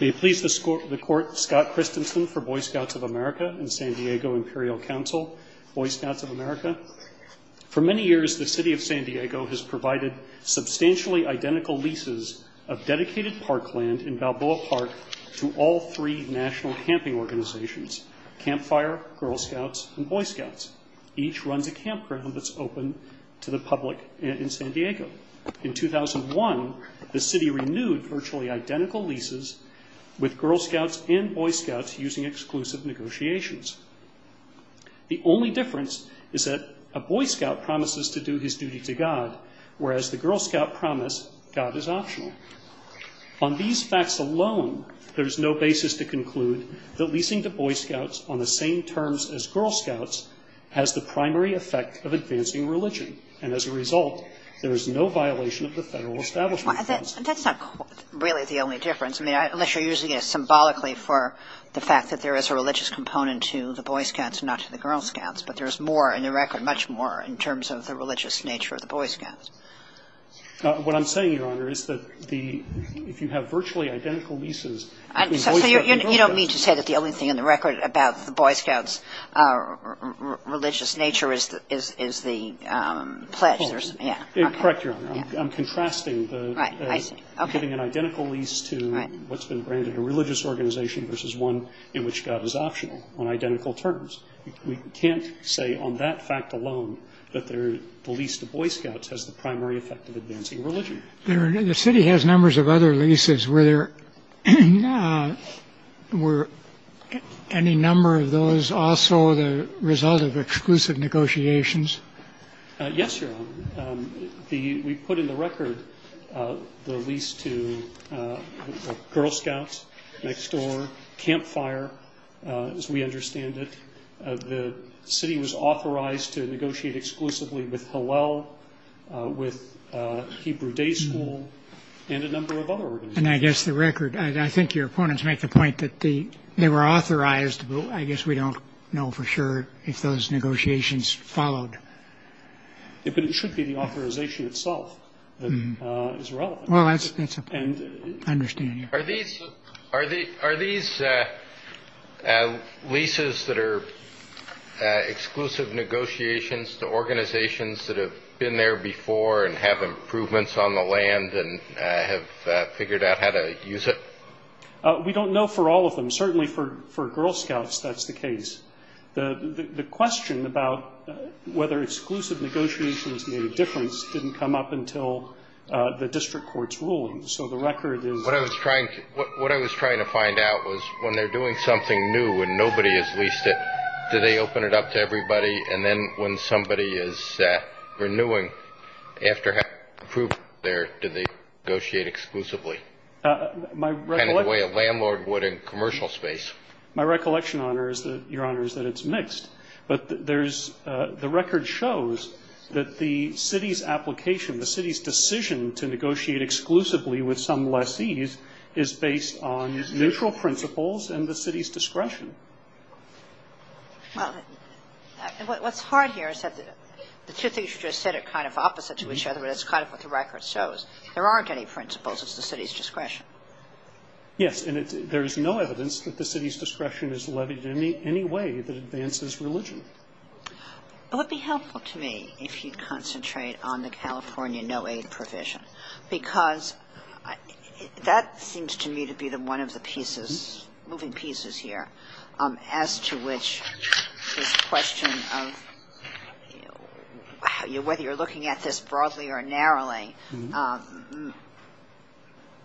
May it please the Court, Scott Christensen for Boy Scouts of America and San Diego Imperial Council, Boy Scouts of America. For many years, the City of San Diego has provided substantially identical leases of dedicated parkland in Balboa Park to all three national camping organizations, Campfire, Girl Scouts, and Boy Scouts. Each runs a campground that's open to the public in San Diego. In 2001, the City renewed virtually identical leases with Girl Scouts and Boy Scouts using exclusive negotiations. The only difference is that a Boy Scout promises to do his duty to God, whereas the Girl Scout promise God is optional. On these facts alone, there is no basis to conclude that leasing to Boy Scouts on the same terms as Girl Scouts has the primary effect of advancing religion, and as a result, there is no violation of the Federal Establishment Clause. And that's not really the only difference. I mean, unless you're using it symbolically for the fact that there is a religious component to the Boy Scouts and not to the Girl Scouts, but there's more in the record, much more in terms of the religious nature of the Boy Scouts. What I'm saying, Your Honor, is that the – if you have virtually identical leases between Boy Scouts and Girl Scouts – Correct, Your Honor. I'm contrasting the – giving an identical lease to what's been branded a religious organization versus one in which God is optional on identical terms. We can't say on that fact alone that the lease to Boy Scouts has the primary effect of advancing religion. The City has numbers of other leases. Were there – were any number of those also the result of exclusive negotiations? Yes, Your Honor. The – we put in the record the lease to Girl Scouts, Next Door, Camp Fire, as we understand it. The City was authorized to negotiate exclusively with Hillel, with Hebrew Day School, and a number of other organizations. And I guess the record – I think your opponents make the point that they were authorized, but I guess we don't know for sure if those negotiations followed. But it should be the authorization itself that is relevant. Well, that's a – I understand you. Are these leases that are exclusive negotiations to organizations that have been there before and have improvements on the land and have figured out how to use it? We don't know for all of them. Certainly for Girl Scouts, that's the case. The question about whether exclusive negotiations made a difference didn't come up until the district court's ruling. So the record is – What I was trying – what I was trying to find out was when they're doing something new and nobody has leased it, do they open it up to everybody? And then when somebody is renewing, after having approved it there, do they negotiate exclusively? Kind of the way a landlord would in commercial space. My recollection, Your Honor, is that it's mixed. But there's – the record shows that the city's application, the city's decision to negotiate exclusively with some lessees is based on neutral principles and the city's discretion. Well, what's hard here is that the two things you just said are kind of opposite to each other, but that's kind of what the record shows. There aren't any principles. It's the city's discretion. Yes. And there is no evidence that the city's discretion is levied in any way that advances religion. But it would be helpful to me if you'd concentrate on the California no-aid provision because that seems to me to be one of the pieces, moving pieces here, as to which this question of whether you're looking at this broadly or narrowly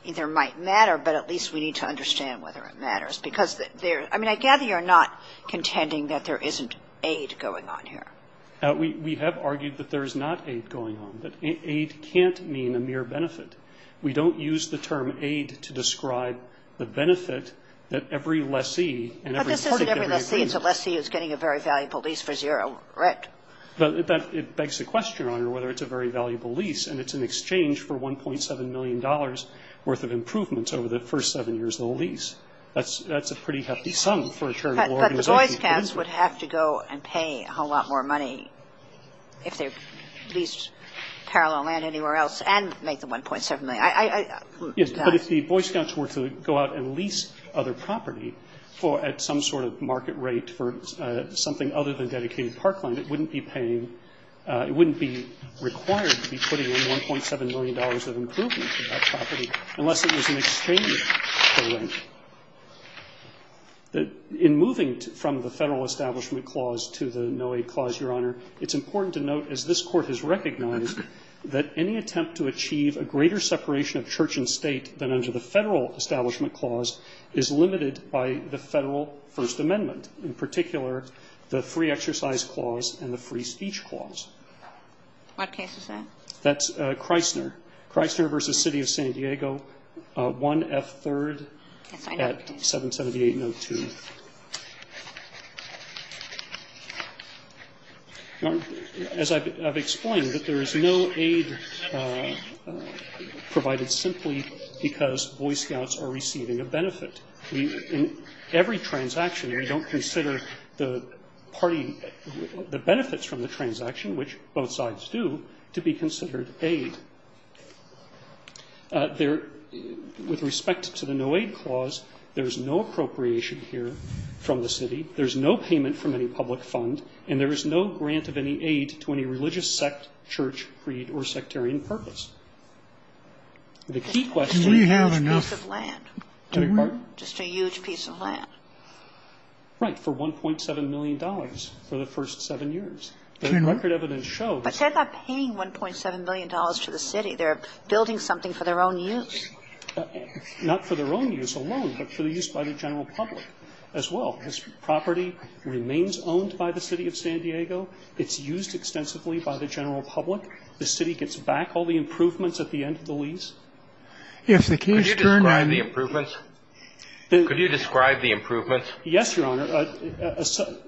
either might matter, but at least we need to understand whether it matters. Because there – I mean, I gather you're not contending that there isn't aid going on here. We have argued that there is not aid going on, that aid can't mean a mere benefit. We don't use the term aid to describe the benefit that every lessee and every city agrees. But this isn't every lessee. It's a lessee who's getting a very valuable lease for zero rent. It begs the question, Your Honor, whether it's a very valuable lease and it's in exchange for $1.7 million worth of improvements over the first seven years of the lease. That's a pretty hefty sum for a charitable organization. But the Boy Scouts would have to go and pay a whole lot more money if they leased parallel land anywhere else and make the $1.7 million. Yes, but if the Boy Scouts were to go out and lease other property at some sort of market rate for something other than dedicated parkland, it wouldn't be paying – it wouldn't be required to be putting in $1.7 million of improvement for that property unless it was in exchange for rent. In moving from the Federal Establishment Clause to the No Aid Clause, Your Honor, it's important to note, as this Court has recognized, that any attempt to achieve a greater separation of church and state than under the Federal Establishment Clause is limited by the Federal First Amendment, in particular the Free Exercise Clause and the Free Speech Clause. What case is that? That's Chrysler. Chrysler v. City of San Diego, 1F3rd at 778-02. As I've explained, there is no aid provided simply because Boy Scouts are receiving a benefit. In every transaction, we don't consider the party – the benefits from the transaction, which both sides do, to be considered aid. With respect to the No Aid Clause, there is no appropriation here from the city, there is no payment from any public fund, and there is no grant of any aid to any religious sect, church, creed, or sectarian purpose. The key question is this piece of land. Do we? Just a huge piece of land. Right. For $1.7 million for the first 7 years. Do we? The record evidence shows. But they're not paying $1.7 million to the city. They're building something for their own use. Not for their own use alone, but for the use by the general public as well. This property remains owned by the City of San Diego. It's used extensively by the general public. The city gets back all the improvements at the end of the lease. Could you describe the improvements? Yes, Your Honor.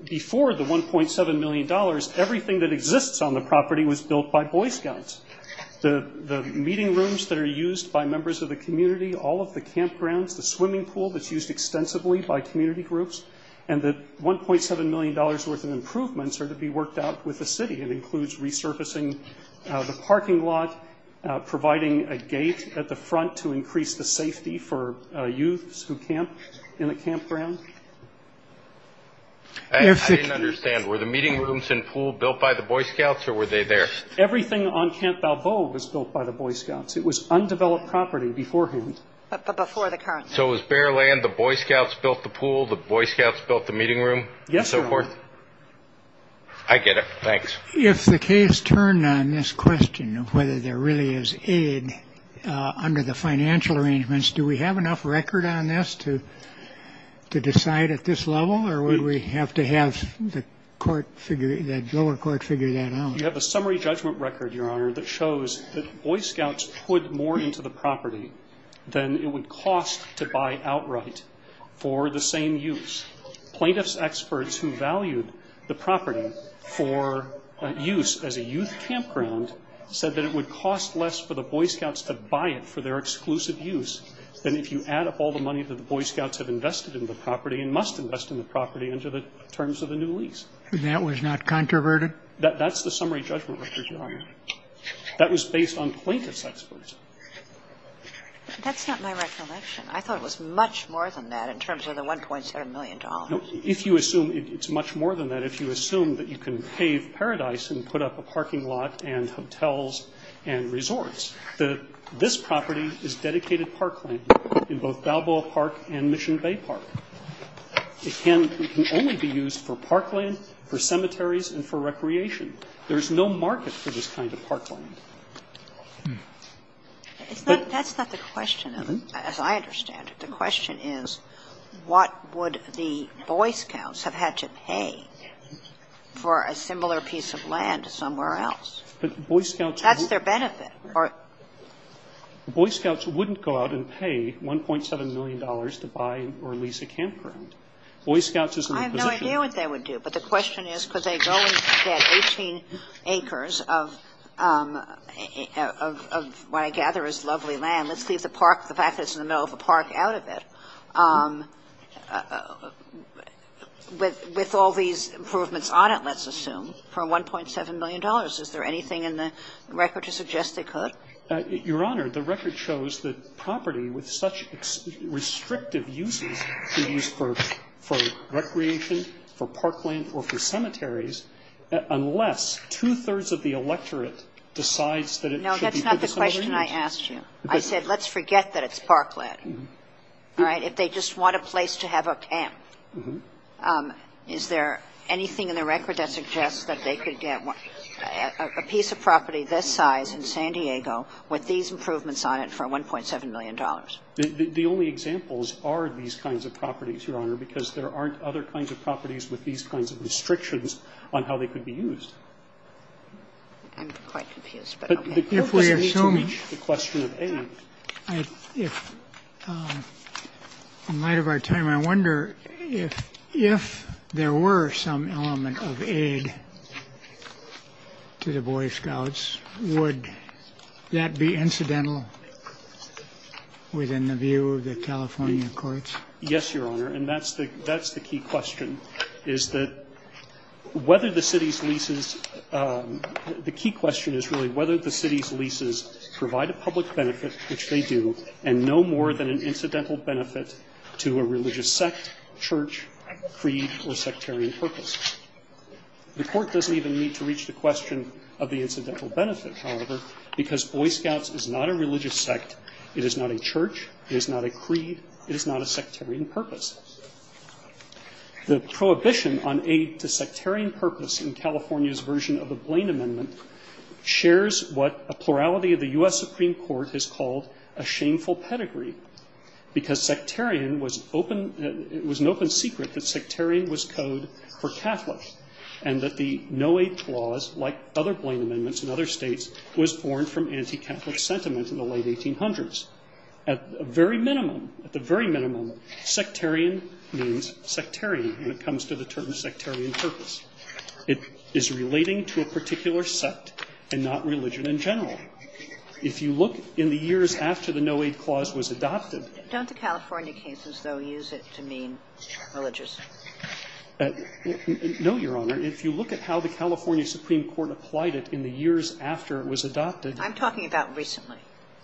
Before the $1.7 million, everything that exists on the property was built by Boy Scouts. The meeting rooms that are used by members of the community, all of the campgrounds, the swimming pool that's used extensively by community groups, and the $1.7 million worth of improvements are to be worked out with the city. It includes resurfacing the parking lot, providing a gate at the front to increase the safety for youths who camp in the campground. I didn't understand. Were the meeting rooms and pool built by the Boy Scouts, or were they there? Everything on Camp Balboa was built by the Boy Scouts. It was undeveloped property beforehand. But before the current. So it was bare land. The Boy Scouts built the pool. The Boy Scouts built the meeting room and so forth? Yes, Your Honor. I get it. Thanks. If the case turned on this question of whether there really is aid under the financial arrangements, do we have enough record on this to decide at this level, or would we have to have the lower court figure that out? You have a summary judgment record, Your Honor, that shows that Boy Scouts put more into the property than it would cost to buy outright for the same use. Plaintiff's experts who valued the property for use as a youth campground said that it would cost less for the Boy Scouts to buy it for their exclusive use than if you add up all the money that the Boy Scouts have invested in the property and must invest in the property under the terms of the new lease. And that was not controverted? That's the summary judgment record, Your Honor. That was based on plaintiff's experts. That's not my recollection. I thought it was much more than that in terms of the $1.7 million. No. If you assume it's much more than that, if you assume that you can pave paradise and put up a parking lot and hotels and resorts, this property is dedicated parkland in both Balboa Park and Mission Bay Park. It can only be used for parkland, for cemeteries and for recreation. There is no market for this kind of parkland. That's not the question, as I understand it. The question is, what would the Boy Scouts have had to pay for a similar piece of land somewhere else? That's their benefit. Boy Scouts wouldn't go out and pay $1.7 million to buy or lease a campground. Boy Scouts is a repositioning. I have no idea what they would do. But the question is, could they go and get 18 acres of what I gather is lovely land, let's leave the park, the fact that it's in the middle of a park, out of it, with all these improvements on it, let's assume, for $1.7 million? Is there anything in the record to suggest they could? Your Honor, the record shows that property with such restrictive uses could be used for recreation, for parkland or for cemeteries, unless two-thirds of the electorate decides that it should be put to cemeteries. No, that's not the question I asked you. I said, let's forget that it's parkland. All right? If they just want a place to have a camp, is there anything in the record that suggests that they could get a piece of property this size in San Diego with these improvements on it for $1.7 million? The only examples are these kinds of properties, Your Honor, because there aren't other kinds of properties with these kinds of restrictions on how they could be used. I'm quite confused, but okay. If we assume the question of aid, if in light of our time, I wonder if there were some element of aid to the Boy Scouts, would that be incidental? Within the view of the California courts? Yes, Your Honor, and that's the key question, is that whether the city's leases – the key question is really whether the city's leases provide a public benefit, which they do, and no more than an incidental benefit to a religious sect, church, creed or sectarian purpose. The Court doesn't even need to reach the question of the incidental benefit, however, because Boy Scouts is not a religious sect. It is not a church. It is not a creed. It is not a sectarian purpose. The prohibition on aid to sectarian purpose in California's version of the Blaine Amendment shares what a plurality of the U.S. Supreme Court has called a shameful pedigree, because sectarian was open – it was an open secret that sectarian was code for Catholics and that the no-aid clause, like other Blaine Amendments in other states, was born from anti-Catholic sentiment in the late 1800s. At the very minimum, sectarian means sectarian when it comes to the term sectarian purpose. It is relating to a particular sect and not religion in general. If you look in the years after the no-aid clause was adopted – Don't the California cases, though, use it to mean religious? No, Your Honor. If you look at how the California Supreme Court applied it in the years after it was adopted – I'm talking about recently.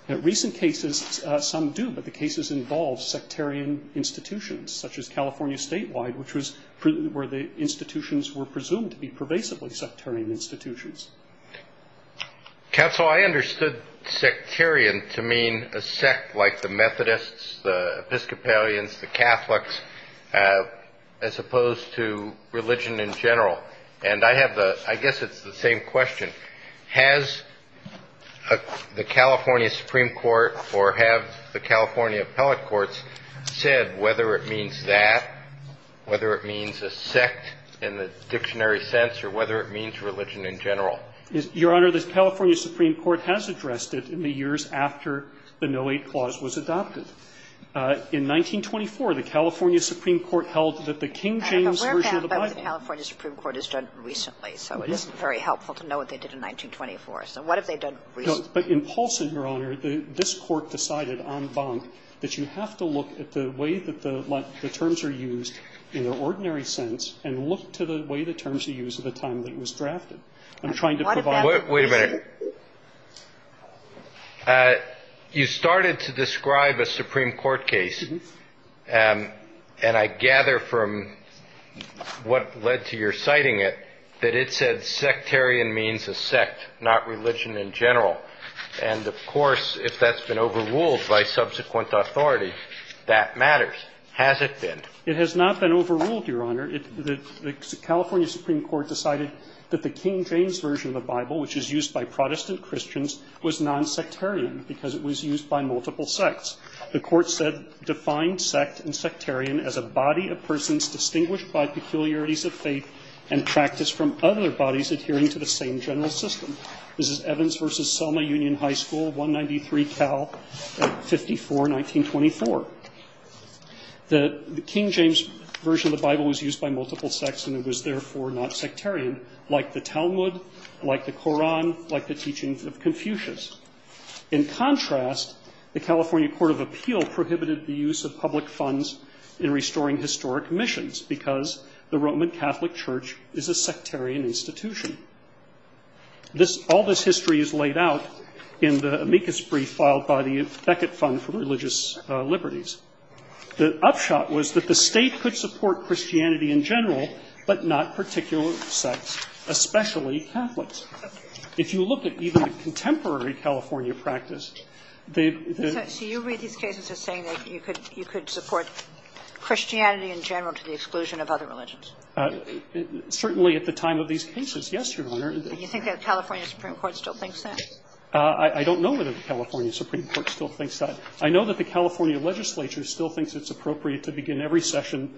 Recent cases, some do, but the cases involve sectarian institutions, such as California statewide, which was where the institutions were presumed to be pervasively sectarian institutions. Counsel, I understood sectarian to mean a sect like the Methodists, the Episcopalians, the Catholics, as opposed to religion in general. And I have the – I guess it's the same question. Has the California Supreme Court or have the California appellate courts said whether it means that, whether it means a sect in the dictionary sense, or whether it means religion in general? Your Honor, the California Supreme Court has addressed it in the years after the no-aid clause was adopted. In 1924, the California Supreme Court held that the King James version of the Bible I have a rare fact about what the California Supreme Court has done recently, so it isn't very helpful to know what they did in 1924. So what have they done recently? But in Paulson, Your Honor, this Court decided en banc that you have to look at the way that the terms are used in the ordinary sense and look to the way the terms are used at the time that it was drafted. I'm trying to provide – Wait a minute. You started to describe a Supreme Court case, and I gather from what led to your citing it that it said sectarian means a sect, not religion in general. And, of course, if that's been overruled by subsequent authority, that matters. Has it been? It has not been overruled, Your Honor. The California Supreme Court decided that the King James version of the Bible, which is used by Protestant Christians, was non-sectarian because it was used by multiple sects. The Court said, Defined sect and sectarian as a body of persons distinguished by peculiarities of faith and practiced from other bodies adhering to the same general system. This is Evans v. Selma Union High School, 193 Cal 54, 1924. The King James version of the Bible was used by multiple sects, and it was, like the Talmud, like the Koran, like the teachings of Confucius. In contrast, the California Court of Appeal prohibited the use of public funds in restoring historic missions because the Roman Catholic Church is a sectarian institution. All this history is laid out in the amicus brief filed by the Beckett Fund for Religious Liberties. The upshot was that the state could support Christianity in general but not particular sects, especially Catholics. If you look at even contemporary California practice, the the the So you read these cases as saying that you could you could support Christianity in general to the exclusion of other religions? Certainly at the time of these cases, yes, Your Honor. Do you think that the California Supreme Court still thinks that? I don't know whether the California Supreme Court still thinks that. I know that the California legislature still thinks it's appropriate to begin every session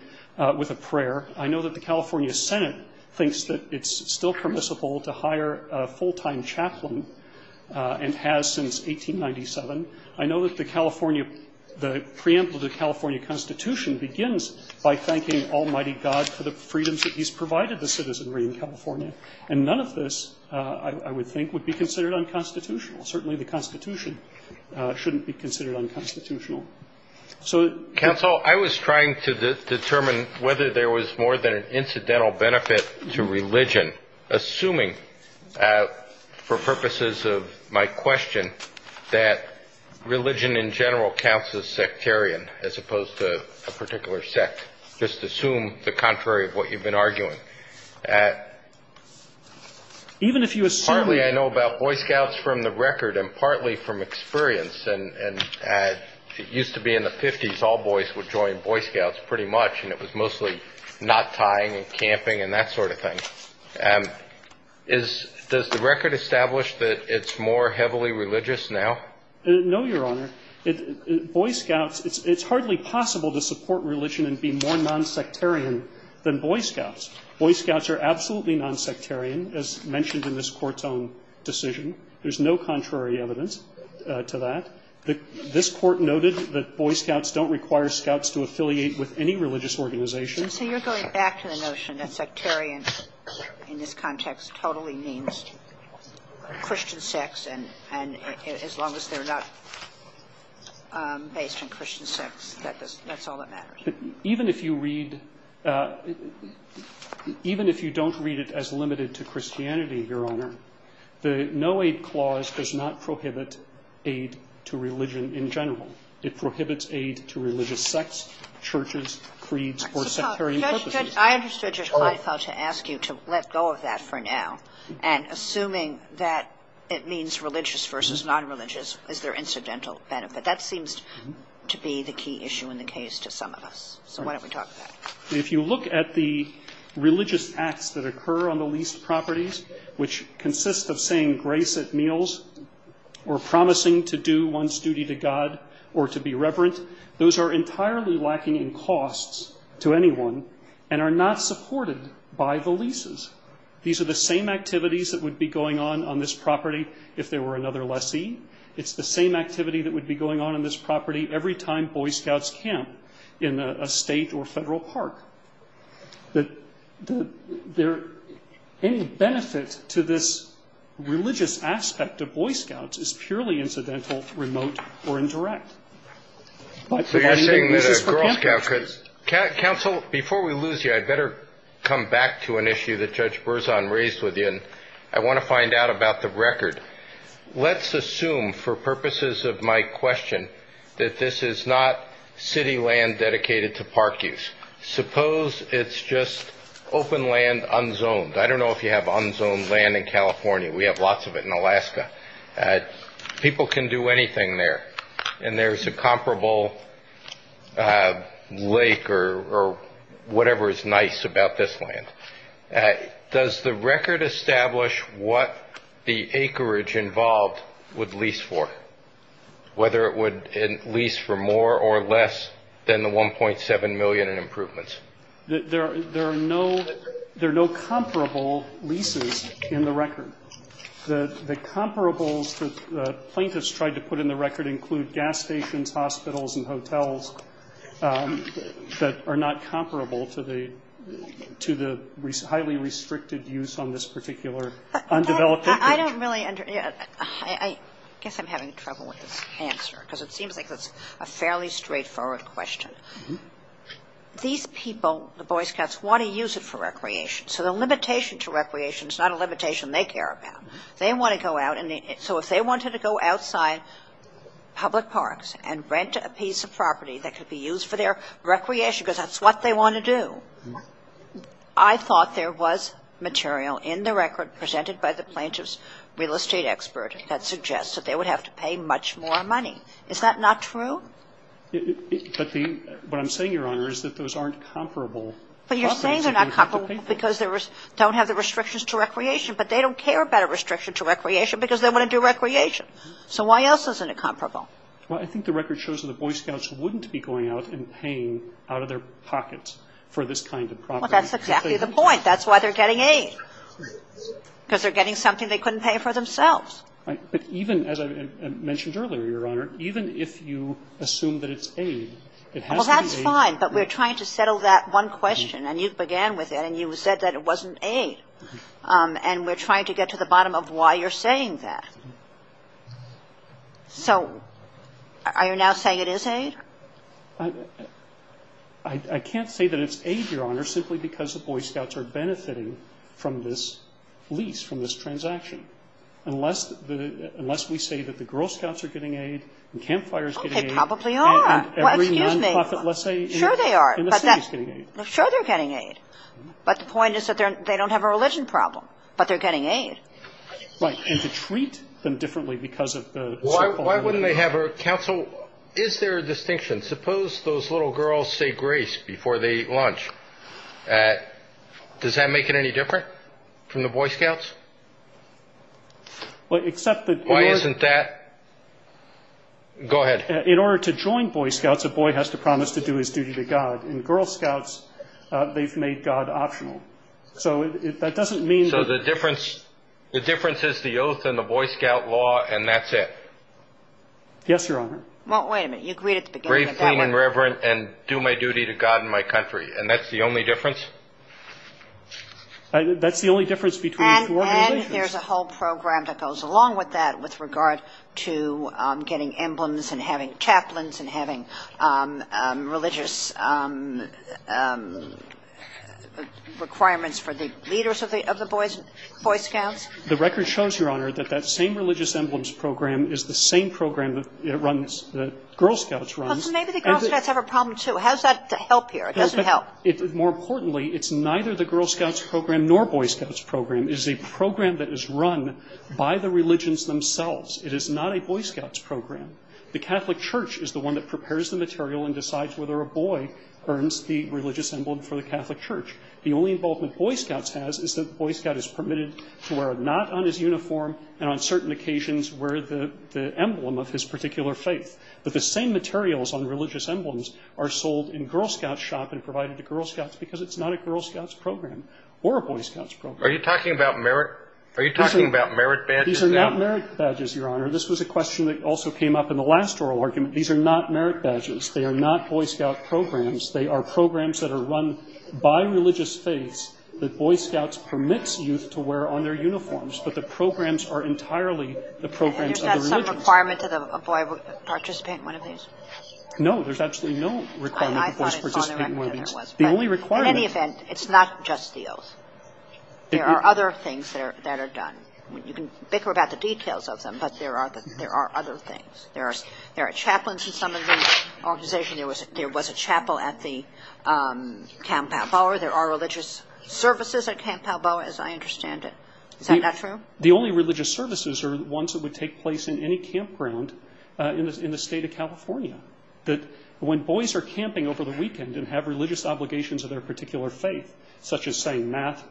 with a prayer. I know that the California Senate thinks that it's still permissible to hire a full-time chaplain and has since 1897. I know that the California the preamble to the California Constitution begins by thanking Almighty God for the freedoms that he's provided the citizenry in California. And none of this, I would think, would be considered unconstitutional. Certainly the Constitution shouldn't be considered unconstitutional. Counsel, I was trying to determine whether there was more than an incidental benefit to religion, assuming for purposes of my question that religion in general counts as sectarian as opposed to a particular sect. Just assume the contrary of what you've been arguing. Even if you assume that. Partly I know about Boy Scouts from the record and partly from experience. And it used to be in the 50s all boys would join Boy Scouts pretty much and it was mostly knot tying and camping and that sort of thing. Does the record establish that it's more heavily religious now? No, Your Honor. Boy Scouts, it's hardly possible to support religion and be more nonsectarian than Boy Scouts. Boy Scouts are absolutely nonsectarian, as mentioned in this Corton decision. There's no contrary evidence to that. This Court noted that Boy Scouts don't require Scouts to affiliate with any religious organization. And so you're going back to the notion that sectarian in this context totally means Christian sex and as long as they're not based on Christian sex, that's all that matters. Even if you read, even if you don't read it as limited to Christianity, Your Honor, the no-aid clause does not prohibit aid to religion in general. It prohibits aid to religious sects, churches, creeds, or sectarian purposes. I understood, Judge Kleinfeld, to ask you to let go of that for now and assuming that it means religious versus nonreligious, is there incidental benefit? That seems to be the key issue in the case to some of us. So why don't we talk about it? If you look at the religious acts that occur on the least properties, which consist of saying grace at meals or promising to do one's duty to God or to be reverent, those are entirely lacking in costs to anyone and are not supported by the leases. These are the same activities that would be going on on this property if there were another lessee. It's the same activity that would be going on on this property every time Boy Scouts camp in a state or federal park. Any benefit to this religious aspect of Boy Scouts is purely incidental, remote, or indirect. This is for counsel. Counsel, before we lose you, I'd better come back to an issue that Judge Berzon raised with you, and I want to find out about the record. Let's assume, for purposes of my question, that this is not city land dedicated to park use. Suppose it's just open land unzoned. I don't know if you have unzoned land in California. We have lots of it in Alaska. People can do anything there, and there's a comparable lake or whatever is nice about this land. Does the record establish what the acreage involved would lease for, whether it would lease for more or less than the 1.7 million in improvements? There are no comparable leases in the record. The comparables that the plaintiffs tried to put in the record include gas stations, hospitals, and hotels that are not comparable to the highly restricted use on this particular undeveloped acreage. I don't really understand. I guess I'm having trouble with this answer because it seems like it's a fairly straightforward question. These people, the Boy Scouts, want to use it for recreation. So the limitation to recreation is not a limitation they care about. They want to go out. So if they wanted to go outside public parks and rent a piece of property that could be used for their recreation because that's what they want to do, I thought there was material in the record presented by the plaintiff's real estate expert that suggests that they would have to pay much more money. Is that not true? But what I'm saying, Your Honor, is that those aren't comparable. But you're saying they're not comparable because they don't have the restrictions to recreation, but they don't care about a restriction to recreation because they want to do recreation. So why else isn't it comparable? Well, I think the record shows that the Boy Scouts wouldn't be going out and paying out of their pockets for this kind of property. Well, that's exactly the point. That's why they're getting aid, because they're getting something they couldn't pay for themselves. Right. But even, as I mentioned earlier, Your Honor, even if you assume that it's aid, it has to be aid. Well, that's fine. But we're trying to settle that one question. And you began with it. And you said that it wasn't aid. And we're trying to get to the bottom of why you're saying that. So are you now saying it is aid? I can't say that it's aid, Your Honor, simply because the Boy Scouts are benefiting from this lease, from this transaction, unless we say that the Girl Scouts are getting aid and Camp Fire is getting aid. Oh, they probably are. Well, excuse me. And every nonprofit, let's say, in the city is getting aid. Sure they are. Sure they're getting aid. But the point is that they don't have a religion problem, but they're getting aid. Right. And to treat them differently because of the so-called religion. Why wouldn't they have a council? Is there a distinction? Suppose those little girls say grace before they eat lunch. Does that make it any different from the Boy Scouts? Except that. Why isn't that? Go ahead. In order to join Boy Scouts, a boy has to promise to do his duty to God. In Girl Scouts, they've made God optional. So that doesn't mean. So the difference is the oath and the Boy Scout law, and that's it. Yes, Your Honor. Well, wait a minute. You agreed at the beginning. Grave, clean, and reverent, and do my duty to God and my country. And that's the only difference? That's the only difference between the two organizations. And there's a whole program that goes along with that with regard to getting emblems and having chaplains and having religious requirements for the leaders of the Boy Scouts. The record shows, Your Honor, that that same religious emblems program is the same program that Girl Scouts runs. Well, so maybe the Girl Scouts have a problem, too. How does that help here? It doesn't help. More importantly, it's neither the Girl Scouts program nor Boy Scouts program. It is a program that is run by the religions themselves. It is not a Boy Scouts program. The Catholic Church is the one that prepares the material and decides whether a boy earns the religious emblem for the Catholic Church. The only involvement Boy Scouts has is that the Boy Scout is permitted to wear a knot on his uniform and on certain occasions wear the emblem of his particular faith. But the same materials on religious emblems are sold in Girl Scouts shop and provided to Girl Scouts because it's not a Girl Scouts program or a Boy Scouts program. Are you talking about merit badges? These are not merit badges, Your Honor. This was a question that also came up in the last oral argument. These are not merit badges. They are not Boy Scout programs. They are programs that are run by religious faiths that Boy Scouts permits youth to wear on their uniforms, but the programs are entirely the programs of the religions. And is that some requirement to the boy participate in one of these? No. There's absolutely no requirement for boys to participate in one of these. I thought it was on the record that there was. The only requirement. In any event, it's not just the oath. There are other things that are done. You can bicker about the details of them, but there are other things. There are chaplains in some of these organizations. There was a chapel at the Camp Palboa. There are religious services at Camp Palboa, as I understand it. Is that not true? The only religious services are ones that would take place in any campground in the State of California. When boys are camping over the weekend and have religious obligations of their particular faith, such as, say, math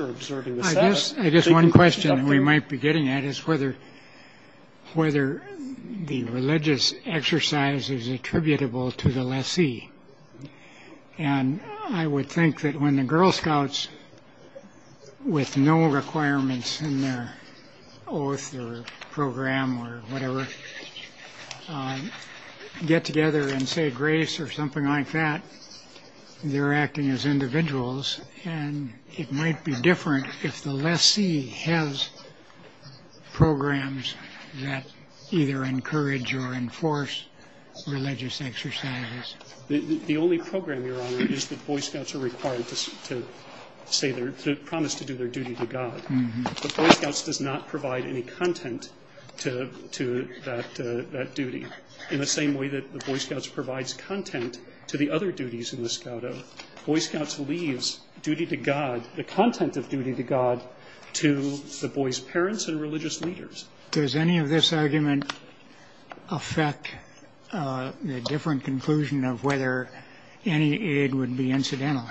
or observing the Sabbath. I guess one question we might be getting at is whether the religious exercise is attributable to the lessee. And I would think that when the Girl Scouts, with no requirements in their oath or program or whatever, get together and say grace or something like that, they're acting as individuals. And it might be different if the lessee has programs that either encourage or enforce religious exercises. The only program, Your Honor, is that Boy Scouts are required to promise to do their duty to God. But Boy Scouts does not provide any content to that duty. In the same way that the Boy Scouts provides content to the other duties in the Scout oath, Boy Scouts leaves duty to God, the content of duty to God, to the boys' parents and religious leaders. Does any of this argument affect the different conclusion of whether any aid would be incidental?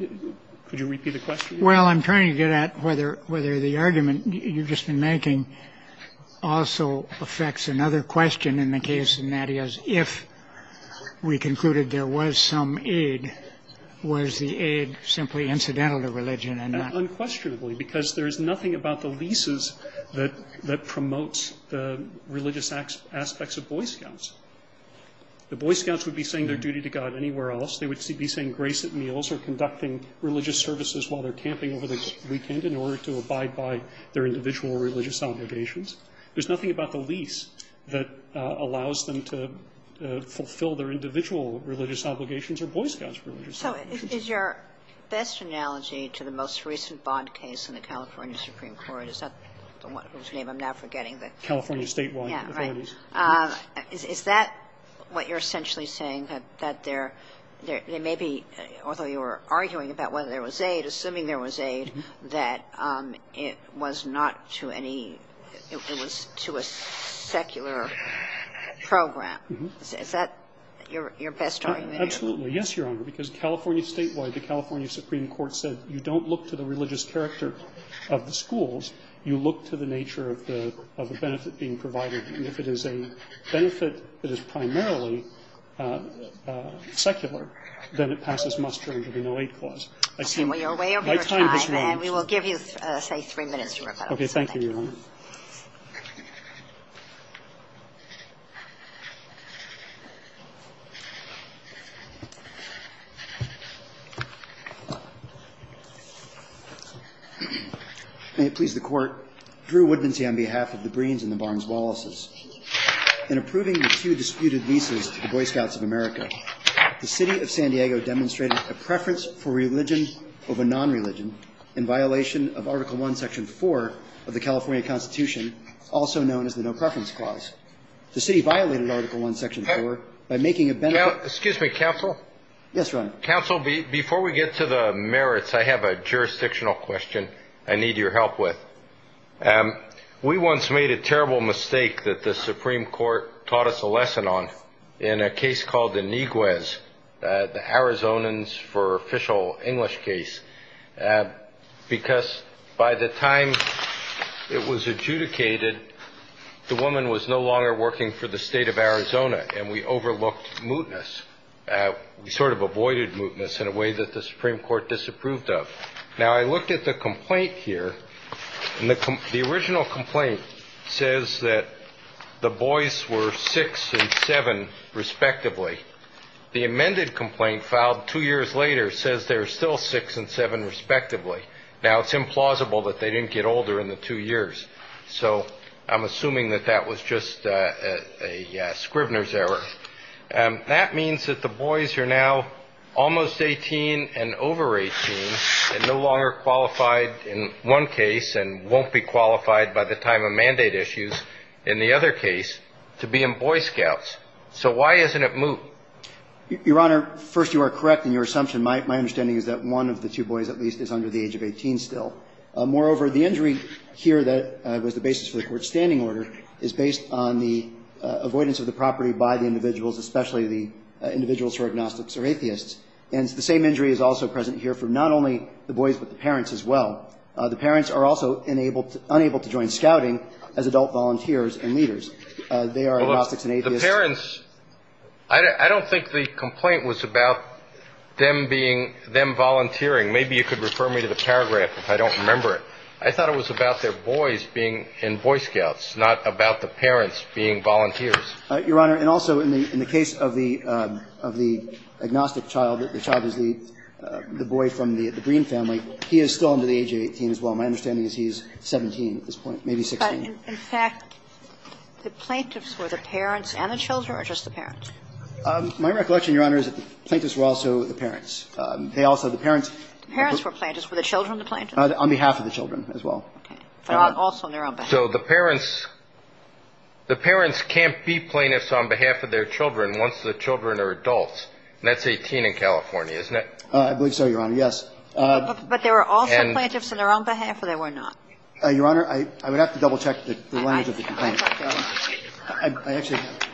Could you repeat the question? Well, I'm trying to get at whether the argument you've just been making also affects another question in the case in that is if we concluded there was some aid, was the aid simply incidental to religion and not? Unquestionably, because there is nothing about the leases that promotes the religious aspects of Boy Scouts. The Boy Scouts would be saying their duty to God anywhere else. They would be saying grace at meals or conducting religious services while they're camping over the weekend in order to abide by their individual religious obligations. There's nothing about the lease that allows them to fulfill their individual religious obligations or Boy Scouts' religious obligations. So is your best analogy to the most recent bond case in the California Supreme Court? Is that the one whose name I'm now forgetting? The California statewide authorities. Yeah, right. Is that what you're essentially saying, that there may be, although you were arguing about whether there was aid, that it was not to any, it was to a secular program? Is that your best argument? Absolutely. Yes, Your Honor, because California statewide, the California Supreme Court said you don't look to the religious character of the schools. You look to the nature of the benefit being provided. And if it is a benefit that is primarily secular, then it passes muster under the No Aid Clause. We are way over time. My time has run. And we will give you, say, three minutes, Your Honor. Okay. Thank you, Your Honor. May it please the Court. Drew Woodmansey on behalf of the Breens and the Barnes-Wallaces. Thank you, Your Honor. In approving the two disputed leases to the Boy Scouts of America, the City of San Diego demonstrated a preference for religion over non-religion in violation of Article I, Section 4 of the California Constitution, also known as the No Preference Clause. The City violated Article I, Section 4 by making a benefit. Excuse me, Counsel? Yes, Your Honor. Counsel, before we get to the merits, I have a jurisdictional question I need your help with. We once made a terrible mistake that the Supreme Court taught us a lesson on in a case called the Niguez, the Arizonans for official English case, because by the time it was adjudicated, the woman was no longer working for the State of Arizona, and we overlooked mootness. We sort of avoided mootness in a way that the Supreme Court disapproved of. Now, I looked at the complaint here, and the original complaint says that the boys were six and seven, respectively. The amended complaint filed two years later says they were still six and seven, respectively. Now, it's implausible that they didn't get older in the two years, so I'm assuming that that was just a Scrivener's error. That means that the boys are now almost 18 and over 18 and no longer qualified in one case and won't be qualified by the time of mandate issues in the other case to be in Boy Scouts. So why isn't it moot? Your Honor, first you are correct in your assumption. My understanding is that one of the two boys at least is under the age of 18 still. Moreover, the injury here that was the basis for the court's standing order is based on the avoidance of the property by the individuals, especially the individuals who are agnostics or atheists, and the same injury is also present here for not only the boys but the parents as well. The parents are also unable to join scouting as adult volunteers and leaders. They are agnostics and atheists. The parents, I don't think the complaint was about them being, them volunteering. Maybe you could refer me to the paragraph if I don't remember it. I thought it was about their boys being in Boy Scouts, not about the parents being volunteers. Your Honor, and also in the case of the agnostic child, the child is the boy from the Green family. He is still under the age of 18 as well. My understanding is he is 17 at this point, maybe 16. In fact, the plaintiffs were the parents and the children or just the parents? My recollection, Your Honor, is that the plaintiffs were also the parents. They also, the parents. The parents were plaintiffs. Were the children the plaintiffs? On behalf of the children as well. Okay. Also on their own behalf. So the parents can't be plaintiffs on behalf of their children once the children are adults, and that's 18 in California, isn't it? I believe so, Your Honor. Yes. But there were also plaintiffs on their own behalf or there were not? Your Honor, I would have to double-check the language of the complaint. I actually have.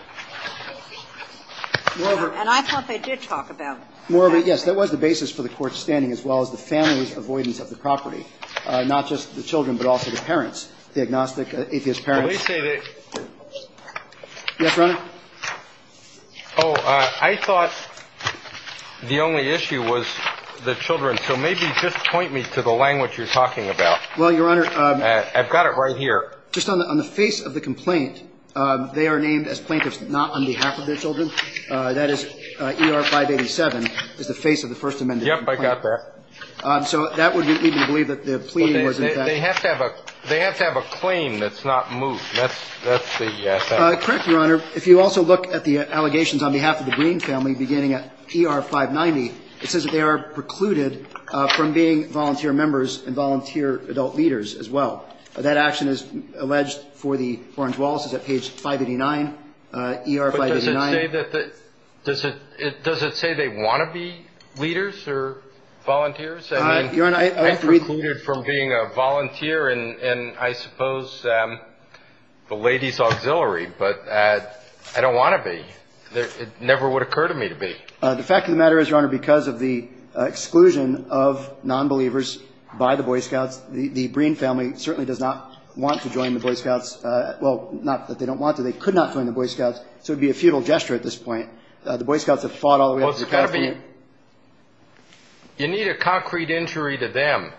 Moreover. And I thought they did talk about that. Moreover, yes, that was the basis for the Court's standing as well as the family's avoidance of the property, not just the children but also the parents, the agnostic atheist parents. Let me say that. Yes, Your Honor. Oh, I thought the only issue was the children. So maybe just point me to the language you're talking about. Well, Your Honor. I've got it right here. Just on the face of the complaint, they are named as plaintiffs not on behalf of their children. That is ER 587 is the face of the First Amendment. Yep, I got that. So that would be even to believe that the plea was in fact. They have to have a claim that's not moved. That's the thing. Correct, Your Honor. If you also look at the allegations on behalf of the Breen family beginning at ER 590, it says that they are precluded from being volunteer members and volunteer adult leaders as well. That action is alleged for the Orange-Wallaces at page 589, ER 589. But does it say that the ‑‑ does it say they want to be leaders or volunteers? I mean, I'm precluded from being a volunteer in, I suppose, the lady's auxiliary, but I don't want to be. It never would occur to me to be. The fact of the matter is, Your Honor, because of the exclusion of non‑believers by the Boy Scouts, the Breen family certainly does not want to join the Boy Scouts. Well, not that they don't want to. They could not join the Boy Scouts, so it would be a futile gesture at this point. The Boy Scouts have fought all the way up to ‑‑ Well, it's got to be ‑‑ you need a concrete injury to them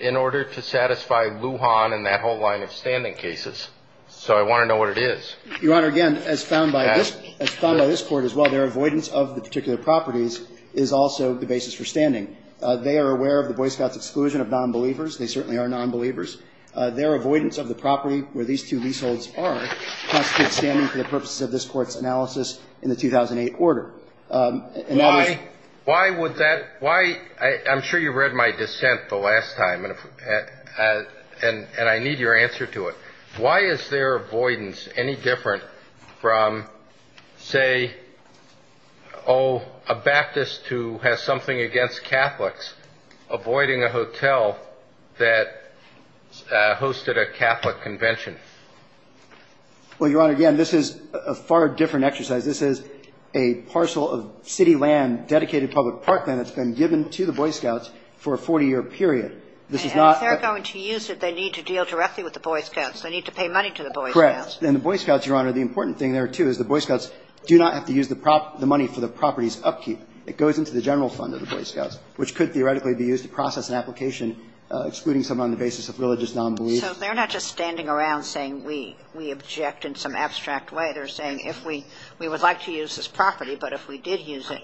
in order to satisfy Lujan and that whole line of standing cases. So I want to know what it is. Your Honor, again, as found by this court as well, their avoidance of the particular properties is also the basis for standing. They are aware of the Boy Scouts' exclusion of non‑believers. They certainly are non‑believers. Their avoidance of the property where these two leaseholds are constitutes standing for the purposes of this Court's analysis in the 2008 order. In other words ‑‑ Why would that ‑‑ why ‑‑ I'm sure you read my dissent the last time, and I need your answer to it. Why is their avoidance any different from, say, oh, a Baptist who has something against Catholics avoiding a hotel that hosted a Catholic convention? Well, Your Honor, again, this is a far different exercise. This is a parcel of city land, dedicated public park land, that's been given to the Boy Scouts for a 40‑year period. This is not ‑‑ If they're going to use it, they need to deal directly with the Boy Scouts. They need to pay money to the Boy Scouts. Correct. And the Boy Scouts, Your Honor, the important thing there, too, is the Boy Scouts do not have to use the money for the property's upkeep. It goes into the general fund of the Boy Scouts, which could theoretically be used to process an application excluding someone on the basis of religious non‑belief. So they're not just standing around saying we object in some abstract way. They're saying if we would like to use this property, but if we did use it,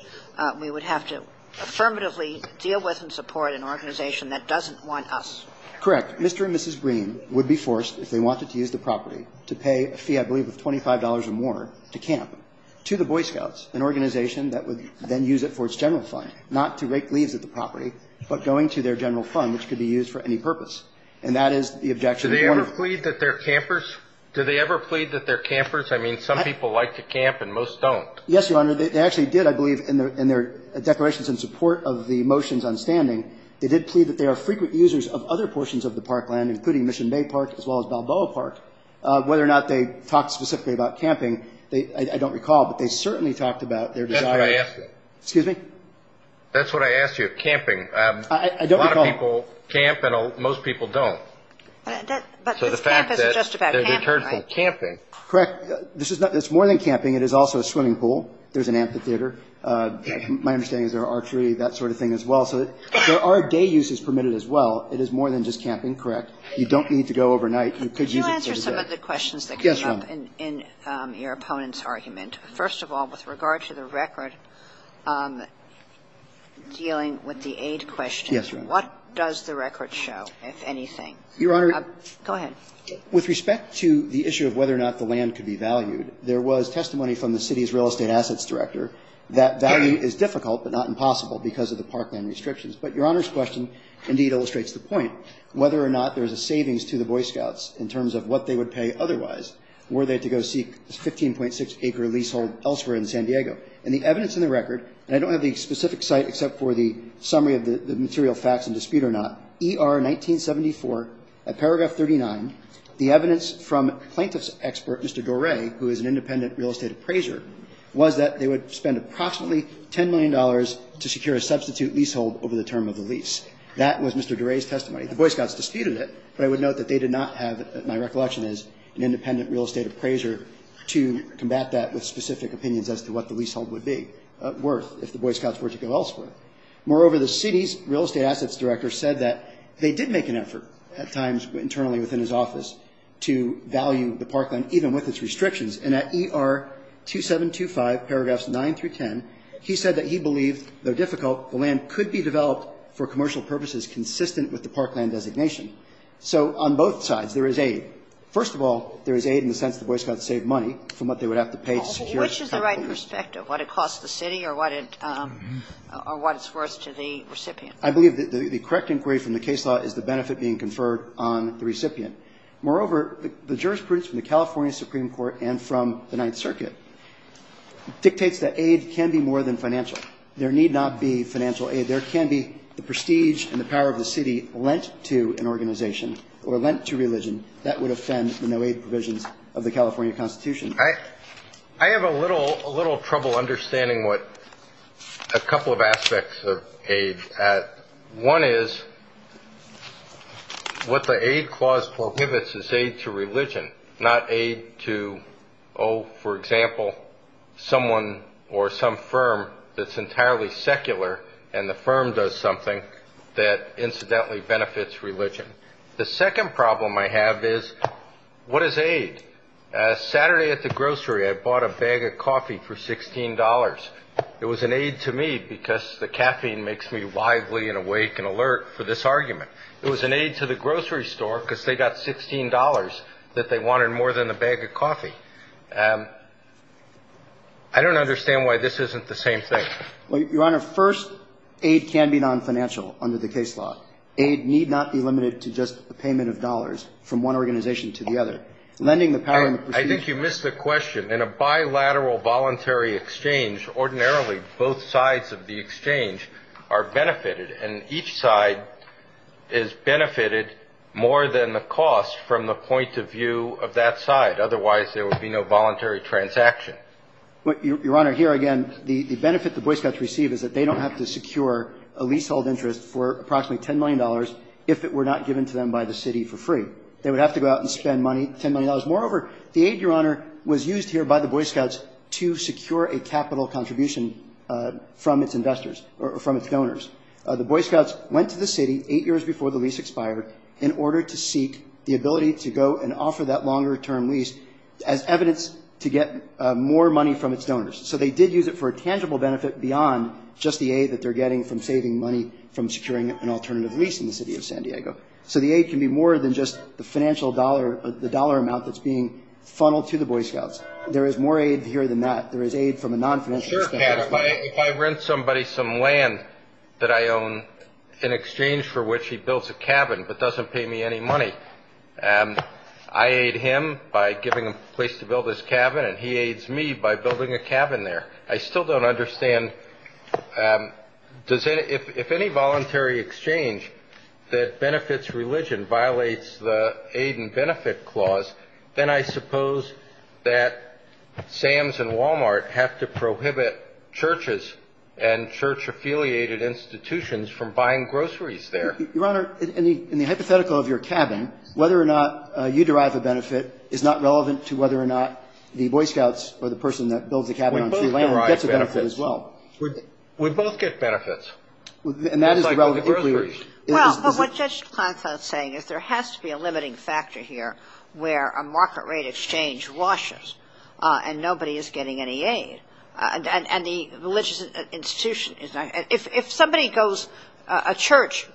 we would have to affirmatively deal with and support an organization that doesn't want us. Correct. Mr. and Mrs. Green would be forced, if they wanted to use the property, to pay a fee I believe of $25 or more to camp, to the Boy Scouts, an organization that would then use it for its general fund, not to rake leaves at the property, but going to their general fund, which could be used for any purpose. And that is the objection that Your Honor ‑‑ Do they ever plead that they're campers? Do they ever plead that they're campers? I mean, some people like to camp and most don't. Yes, Your Honor. They actually did, I believe, in their declarations in support of the motions on standing, they did plead that they are frequent users of other portions of the parkland, including Mission Bay Park as well as Balboa Park. Whether or not they talked specifically about camping, I don't recall, but they certainly talked about their desire to ‑‑ That's what I asked you. Excuse me? That's what I asked you, camping. I don't recall. A lot of people camp and most people don't. But this camp is just about camping, right? So the fact that they've returned from camping. Correct. It's more than camping. It is also a swimming pool. There's an amphitheater. My understanding is there are archery, that sort of thing as well. So there are day uses permitted as well. It is more than just camping, correct? You don't need to go overnight. You could use it for the day. Could you answer some of the questions that came up in your opponent's argument? First of all, with regard to the record dealing with the aid question. Yes, Your Honor. What does the record show, if anything? Your Honor ‑‑ Go ahead. With respect to the issue of whether or not the land could be valued, there was testimony from the city's real estate assets director that value is difficult but not impossible because of the parkland restrictions. But Your Honor's question indeed illustrates the point. Whether or not there's a savings to the Boy Scouts in terms of what they would pay otherwise were they to go seek a 15.6 acre leasehold elsewhere in San Diego. And the evidence in the record, and I don't have the specific site except for the summary of the material facts in dispute or not, ER 1974 at paragraph 39, the evidence from plaintiff's expert, Mr. Doray, who is an independent real estate appraiser, was that they would spend approximately $10 million to secure a substitute leasehold over the term of the lease. That was Mr. Doray's testimony. The Boy Scouts disputed it, but I would note that they did not have, my recollection is, an independent real estate appraiser to combat that with specific opinions as to what the leasehold would be worth if the Boy Scouts were to go elsewhere. Moreover, the city's real estate assets director said that they did make an effort at times internally within his office to value the parkland even with its restrictions. And at ER 2725, paragraphs 9 through 10, he said that he believed, though difficult, the land could be developed for commercial purposes consistent with the parkland designation. So on both sides there is aid. First of all, there is aid in the sense the Boy Scouts saved money from what they would have to pay to secure a couple of years. Kagan. Which is the right perspective, what it costs the city or what it's worth to the recipient? I believe the correct inquiry from the case law is the benefit being conferred on the recipient. Moreover, the jurisprudence from the California Supreme Court and from the Ninth Circuit dictates that aid can be more than financial. There need not be financial aid. There can be the prestige and the power of the city lent to an organization or lent to religion that would offend the no-aid provisions of the California Constitution. I have a little trouble understanding a couple of aspects of aid. One is what the aid clause prohibits is aid to religion, not aid to, oh, for example, someone or some firm that's entirely secular and the firm does something that incidentally benefits religion. The second problem I have is what is aid? Saturday at the grocery I bought a bag of coffee for $16. It was an aid to me because the caffeine makes me lively and awake and alert for this argument. It was an aid to the grocery store because they got $16 that they wanted more than a bag of coffee. I don't understand why this isn't the same thing. Your Honor, first, aid can be non-financial under the case law. Aid need not be limited to just a payment of dollars from one organization to the other. Lending the power in the procedure. I think you missed the question. In a bilateral voluntary exchange, ordinarily both sides of the exchange are benefited, and each side is benefited more than the cost from the point of view of that side. Otherwise, there would be no voluntary transaction. Your Honor, here again, the benefit the Boy Scouts receive is that they don't have to secure a leasehold interest for approximately $10 million if it were not given to them by the city for free. They would have to go out and spend money, $10 million. Moreover, the aid, Your Honor, was used here by the Boy Scouts to secure a capital contribution from its investors or from its donors. The Boy Scouts went to the city eight years before the lease expired in order to seek the ability to go and offer that longer-term lease as evidence to get more money from its donors. So they did use it for a tangible benefit beyond just the aid that they're getting from saving money from securing an alternative lease in the city of San Diego. So the aid can be more than just the financial dollar, the dollar amount that's being funneled to the Boy Scouts. There is more aid here than that. There is aid from a non-financial standpoint. Sure, Pat. If I rent somebody some land that I own in exchange for which he builds a cabin but doesn't pay me any money, I aid him by giving him a place to build his cabin, and he aids me by building a cabin there. I still don't understand, if any voluntary exchange that benefits religion violates the aid and benefit clause, then I suppose that Sam's and Walmart have to prohibit churches and church-affiliated institutions from buying groceries there. Your Honor, in the hypothetical of your cabin, whether or not you derive a benefit is not relevant to whether or not the Boy Scouts or the person that builds the cabin on free land gets a benefit as well. We both get benefits. And that is a relatively clear position. Well, what Judge Klontz is saying is there has to be a limiting factor here where a market rate exchange washes and nobody is getting any aid, and the religious institution is not. If somebody goes, a church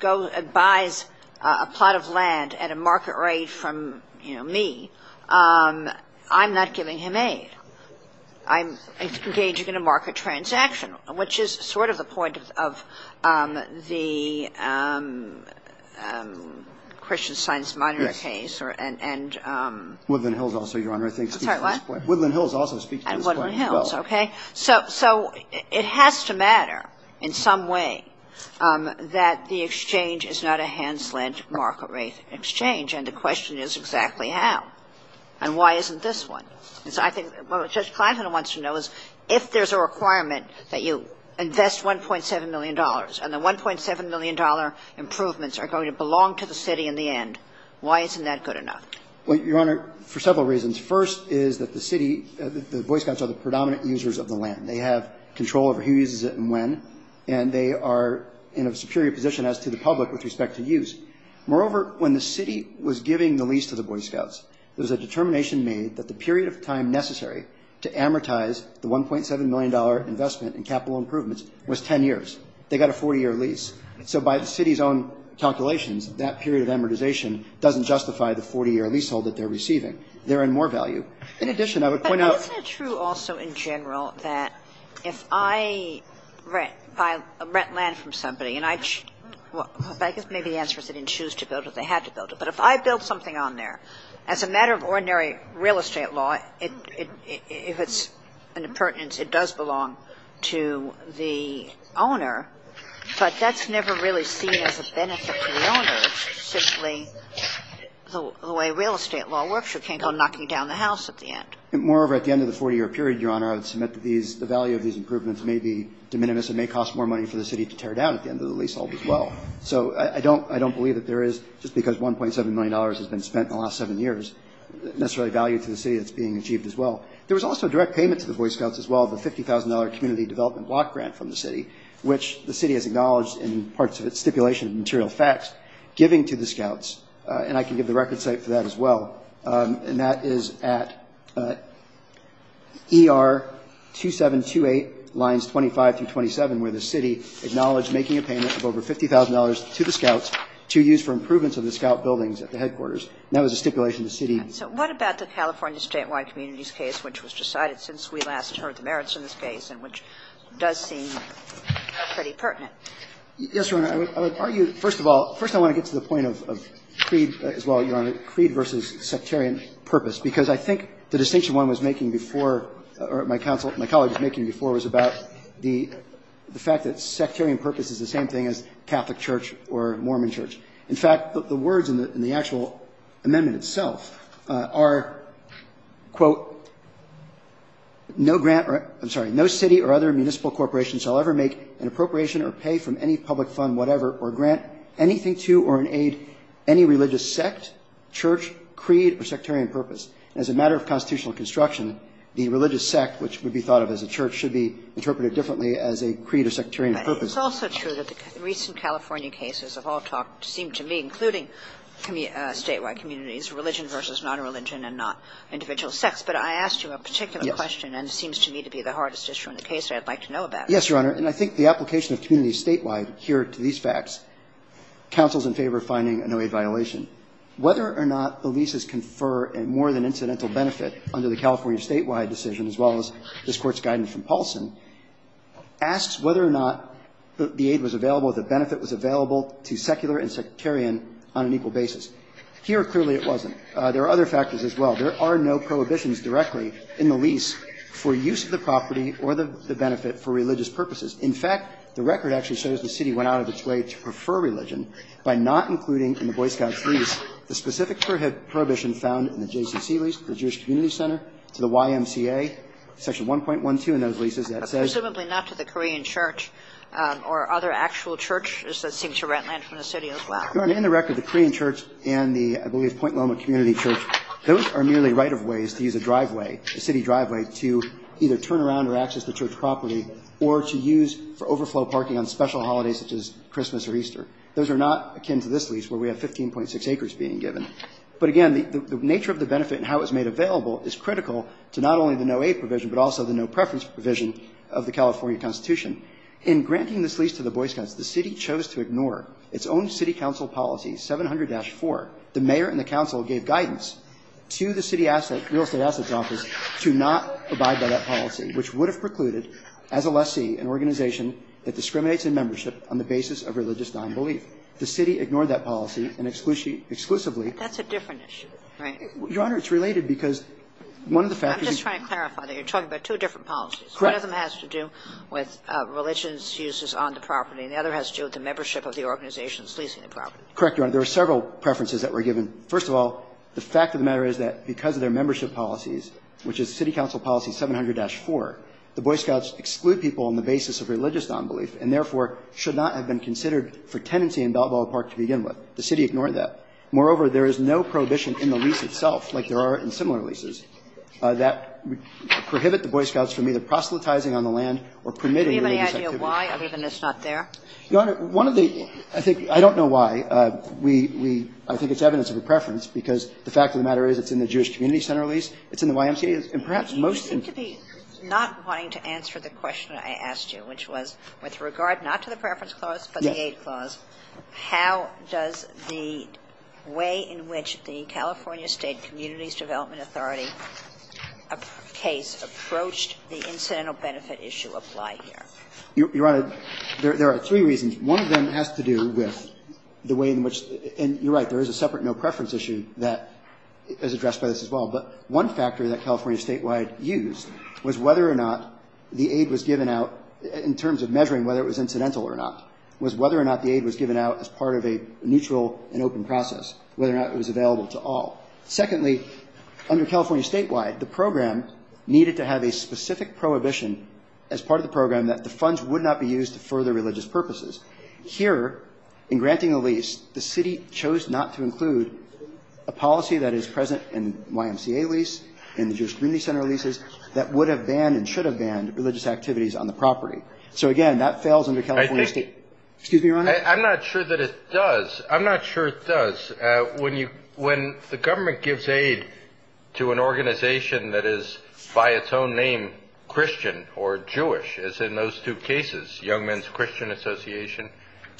buys a plot of land at a market rate from me, I'm not giving him aid. I'm engaging in a market transaction, which is sort of the point of the Christian Science Monitor case. Woodland Hills also, Your Honor, I think speaks to this point. Sorry, what? Woodland Hills also speaks to this point as well. And Woodland Hills, okay. So it has to matter in some way that the exchange is not a handslant market rate exchange, and the question is exactly how. And why isn't this one? And so I think what Judge Klontz wants to know is if there's a requirement that you invest $1.7 million and the $1.7 million improvements are going to belong to the city in the end, why isn't that good enough? Well, Your Honor, for several reasons. First is that the city, the Boy Scouts are the predominant users of the land. They have control over who uses it and when, and they are in a superior position as to the public with respect to use. Moreover, when the city was giving the lease to the Boy Scouts, there was a determination made that the period of time necessary to amortize the $1.7 million investment in capital improvements was 10 years. They got a 40-year lease. So by the city's own calculations, that period of amortization doesn't justify the 40-year leasehold that they're receiving. They're in more value. In addition, I would point out – But isn't it true also in general that if I rent land from somebody, and I guess maybe the answer is they didn't choose to build it, they had to build it. But if I build something on there, as a matter of ordinary real estate law, if it's in a pertinence, it does belong to the owner, but that's never really seen as a benefit to the owner. It's simply the way real estate law works. You can't go knocking down the house at the end. Moreover, at the end of the 40-year period, Your Honor, I would submit that the value of these improvements may be de minimis and may cost more money for the city to tear down at the end of the leasehold as well. So I don't believe that there is, just because $1.7 million has been spent in the last seven years, necessarily value to the city that's being achieved as well. There was also a direct payment to the Boy Scouts as well, the $50,000 community development block grant from the city, which the city has acknowledged in parts of its stipulation of material facts, giving to the Scouts. And I can give the record site for that as well, and that is at ER 2728 lines 25 through 27, where the city acknowledged making a payment of over $50,000 to the Scouts to use for improvements of the Scout buildings at the headquarters. And that was a stipulation the city. Kagan. So what about the California Statewide Communities case, which was decided since we last heard the merits in this case, and which does seem pretty pertinent? Yes, Your Honor. I would argue, first of all, first I want to get to the point of creed as well, Your Honor, creed versus sectarian purpose, because I think the distinction one was making before, or my colleague was making before, was about the fact that sectarian purpose is the same thing as Catholic church or Mormon church. In fact, the words in the actual amendment itself are, quote, no grant, I'm sorry, no city or other municipal corporation shall ever make an appropriation or pay from any public fund whatever or grant anything to or in aid any religious sect, church, creed, or sectarian purpose. And as a matter of constitutional construction, the religious sect, which would be thought of as a church, should be interpreted differently as a creed or sectarian purpose. But it's also true that the recent California cases have all talked, seem to me, including Statewide Communities, religion versus nonreligion and not individual sects. But I asked you a particular question. Yes. And it seems to me to be the hardest issue in the case that I'd like to know about. Yes, Your Honor. And I think the application of community statewide here to these facts counsels in favor of finding a no-aid violation. Whether or not the leases confer more than incidental benefit under the California statewide decision, as well as this Court's guidance from Paulson, asks whether or not the aid was available, the benefit was available to secular and sectarian on an equal basis. Here, clearly it wasn't. There are other factors as well. There are no prohibitions directly in the lease for use of the property or the benefit for religious purposes. In fact, the record actually shows the city went out of its way to prefer religion by not including in the Boy Scouts lease the specific prohibition found in the JCCC lease, the Jewish Community Center, to the YMCA, Section 1.12 in those leases that says ---- But presumably not to the Korean Church or other actual churches that seem to rent land from the city as well. Your Honor, in the record, the Korean Church and the, I believe, Point Loma Community Church, those are merely right-of-ways to use a driveway, a city driveway, to either turn around or access the church property or to use for overflow parking on special holidays such as Christmas or Easter. Those are not akin to this lease where we have 15.6 acres being given. But again, the nature of the benefit and how it was made available is critical to not only the no-aid provision but also the no-preference provision of the California Constitution. In granting this lease to the Boy Scouts, the city chose to ignore its own city council policy, 700-4. The mayor and the council gave guidance to the city real estate assets office to not abide by that policy, which would have precluded, as a lessee, an organization that discriminates in membership on the basis of religious nonbelief. The city ignored that policy and exclusively ‑‑ That's a different issue, right? Your Honor, it's related because one of the factors ‑‑ I'm just trying to clarify that you're talking about two different policies. Correct. One of them has to do with religious uses on the property, and the other has to do with the membership of the organizations leasing the property. Correct, Your Honor. There are several preferences that were given. First of all, the fact of the matter is that because of their membership policies, which is city council policy 700-4, the Boy Scouts exclude people on the basis of religious nonbelief and, therefore, should not have been considered for tenancy in Balboa Park to begin with. The city ignored that. Moreover, there is no prohibition in the lease itself, like there are in similar leases, that prohibit the Boy Scouts from either proselytizing on the land or permitting religious activity. Do you have any idea why? I believe it's not there. Your Honor, one of the ‑‑ I think ‑‑ I don't know why. We ‑‑ I think it's evidence of a preference because the fact of the matter is it's in the Jewish Community Center lease, it's in the YMCA, and perhaps most in ‑‑ I seem to be not wanting to answer the question I asked you, which was with regard not to the preference clause but the aid clause, how does the way in which the California State Communities Development Authority case approached the incidental benefit issue apply here? Your Honor, there are three reasons. One of them has to do with the way in which ‑‑ and you're right. There is a separate no preference issue that is addressed by this as well. But one factor that California Statewide used was whether or not the aid was given out in terms of measuring whether it was incidental or not, was whether or not the aid was given out as part of a neutral and open process, whether or not it was available to all. Secondly, under California Statewide, the program needed to have a specific prohibition as part of the program that the funds would not be used for the religious purposes. Here, in granting a lease, the city chose not to include a policy that is present in YMCA lease, in the Jewish Community Center leases, that would have banned and should have banned religious activities on the property. So, again, that fails under California State ‑‑ Excuse me, Your Honor. I'm not sure that it does. I'm not sure it does. When you ‑‑ when the government gives aid to an organization that is by its own Christian or Jewish, as in those two cases, Young Men's Christian Association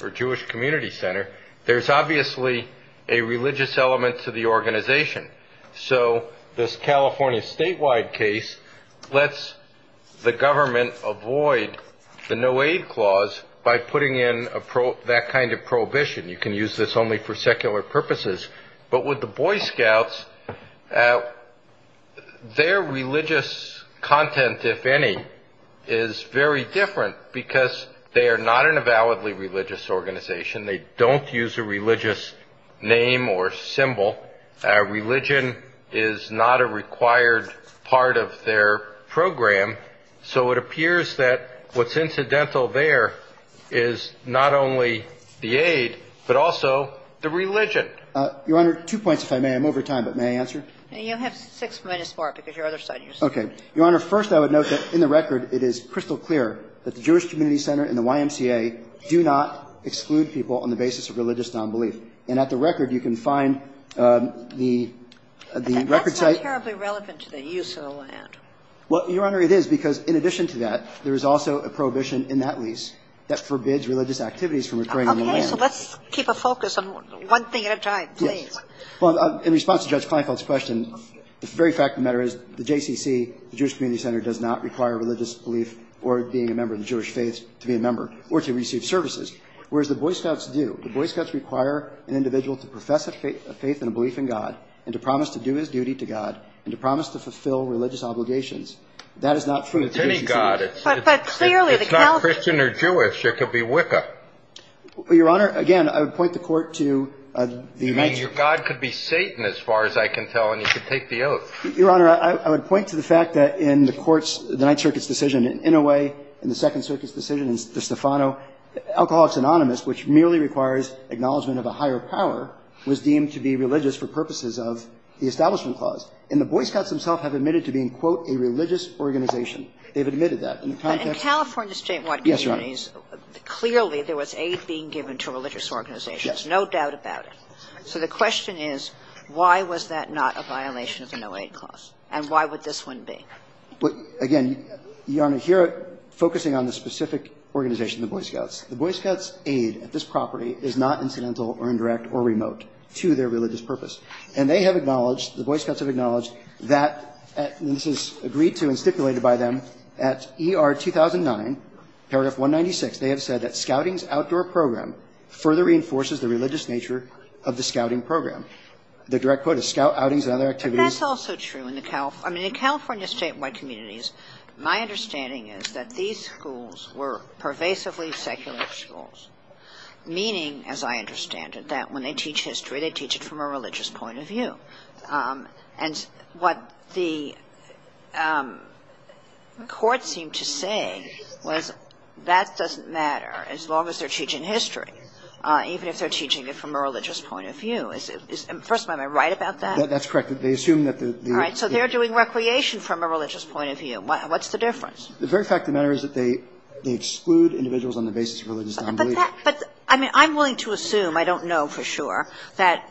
or Jewish Community Center, there's obviously a religious element to the organization. So this California Statewide case lets the government avoid the no aid clause by putting in that kind of prohibition. You can use this only for secular purposes. But with the Boy Scouts, their religious content, if any, is very different because they are not an avowedly religious organization. They don't use a religious name or symbol. Religion is not a required part of their program. So it appears that what's incidental there is not only the aid, but also the religion. Your Honor, two points, if I may. I'm over time, but may I answer? You have six minutes more because your other side is here. Okay. Your Honor, first I would note that in the record it is crystal clear that the Jewish Community Center and the YMCA do not exclude people on the basis of religious nonbelief. And at the record you can find the ‑‑ That's not terribly relevant to the use of the land. Well, Your Honor, it is because in addition to that, there is also a prohibition in that lease that forbids religious activities from occurring on the land. Okay. So let's keep a focus on one thing at a time, please. Well, in response to Judge Kleinfeld's question, the very fact of the matter is the JCC, the Jewish Community Center, does not require religious belief or being a member of the Jewish faith to be a member or to receive services. Whereas the Boy Scouts do. The Boy Scouts require an individual to profess a faith and a belief in God and to promise to do his duty to God and to promise to fulfill religious obligations. That is not true of the JCC. It's any God. It's not Christian or Jewish. It could be Wicca. Well, Your Honor, again, I would point the Court to the ‑‑ You mean your God could be Satan, as far as I can tell, and you could take the oath. Your Honor, I would point to the fact that in the Court's, the Ninth Circuit's decision, in a way, in the Second Circuit's decision, in Stefano, Alcoholics Anonymous, which merely requires acknowledgment of a higher power, was deemed to be religious for purposes of the Establishment Clause. And the Boy Scouts themselves have admitted to being, quote, a religious organization. They've admitted that. In the context ‑‑ But in California statewide communities ‑‑ Yes, Your Honor. Clearly, there was aid being given to religious organizations. Yes. No doubt about it. So the question is, why was that not a violation of the No Aid Clause, and why would this one be? Again, Your Honor, here, focusing on the specific organization, the Boy Scouts, the Boy Scouts' aid at this property is not incidental or indirect or remote to their religious purpose. And they have acknowledged, the Boy Scouts have acknowledged that, and this is agreed to and stipulated by them at ER 2009, paragraph 196, they have said that scouting's outdoor program further reinforces the religious nature of the scouting program. The direct quote is, scout outings and other activities ‑‑ But that's also true in the California ‑‑ I mean, in California statewide communities, my understanding is that these schools were pervasively secular schools, meaning, as I understand it, that when they teach history, they teach it from a religious point of view. And what the court seemed to say was, that doesn't matter, as long as they're teaching history, even if they're teaching it from a religious point of view. First of all, am I right about that? That's correct. They assume that the ‑‑ All right. So they're doing recreation from a religious point of view. What's the difference? The very fact of the matter is that they exclude individuals on the basis of religious nonbelief. But I mean, I'm willing to assume, I don't know for sure, that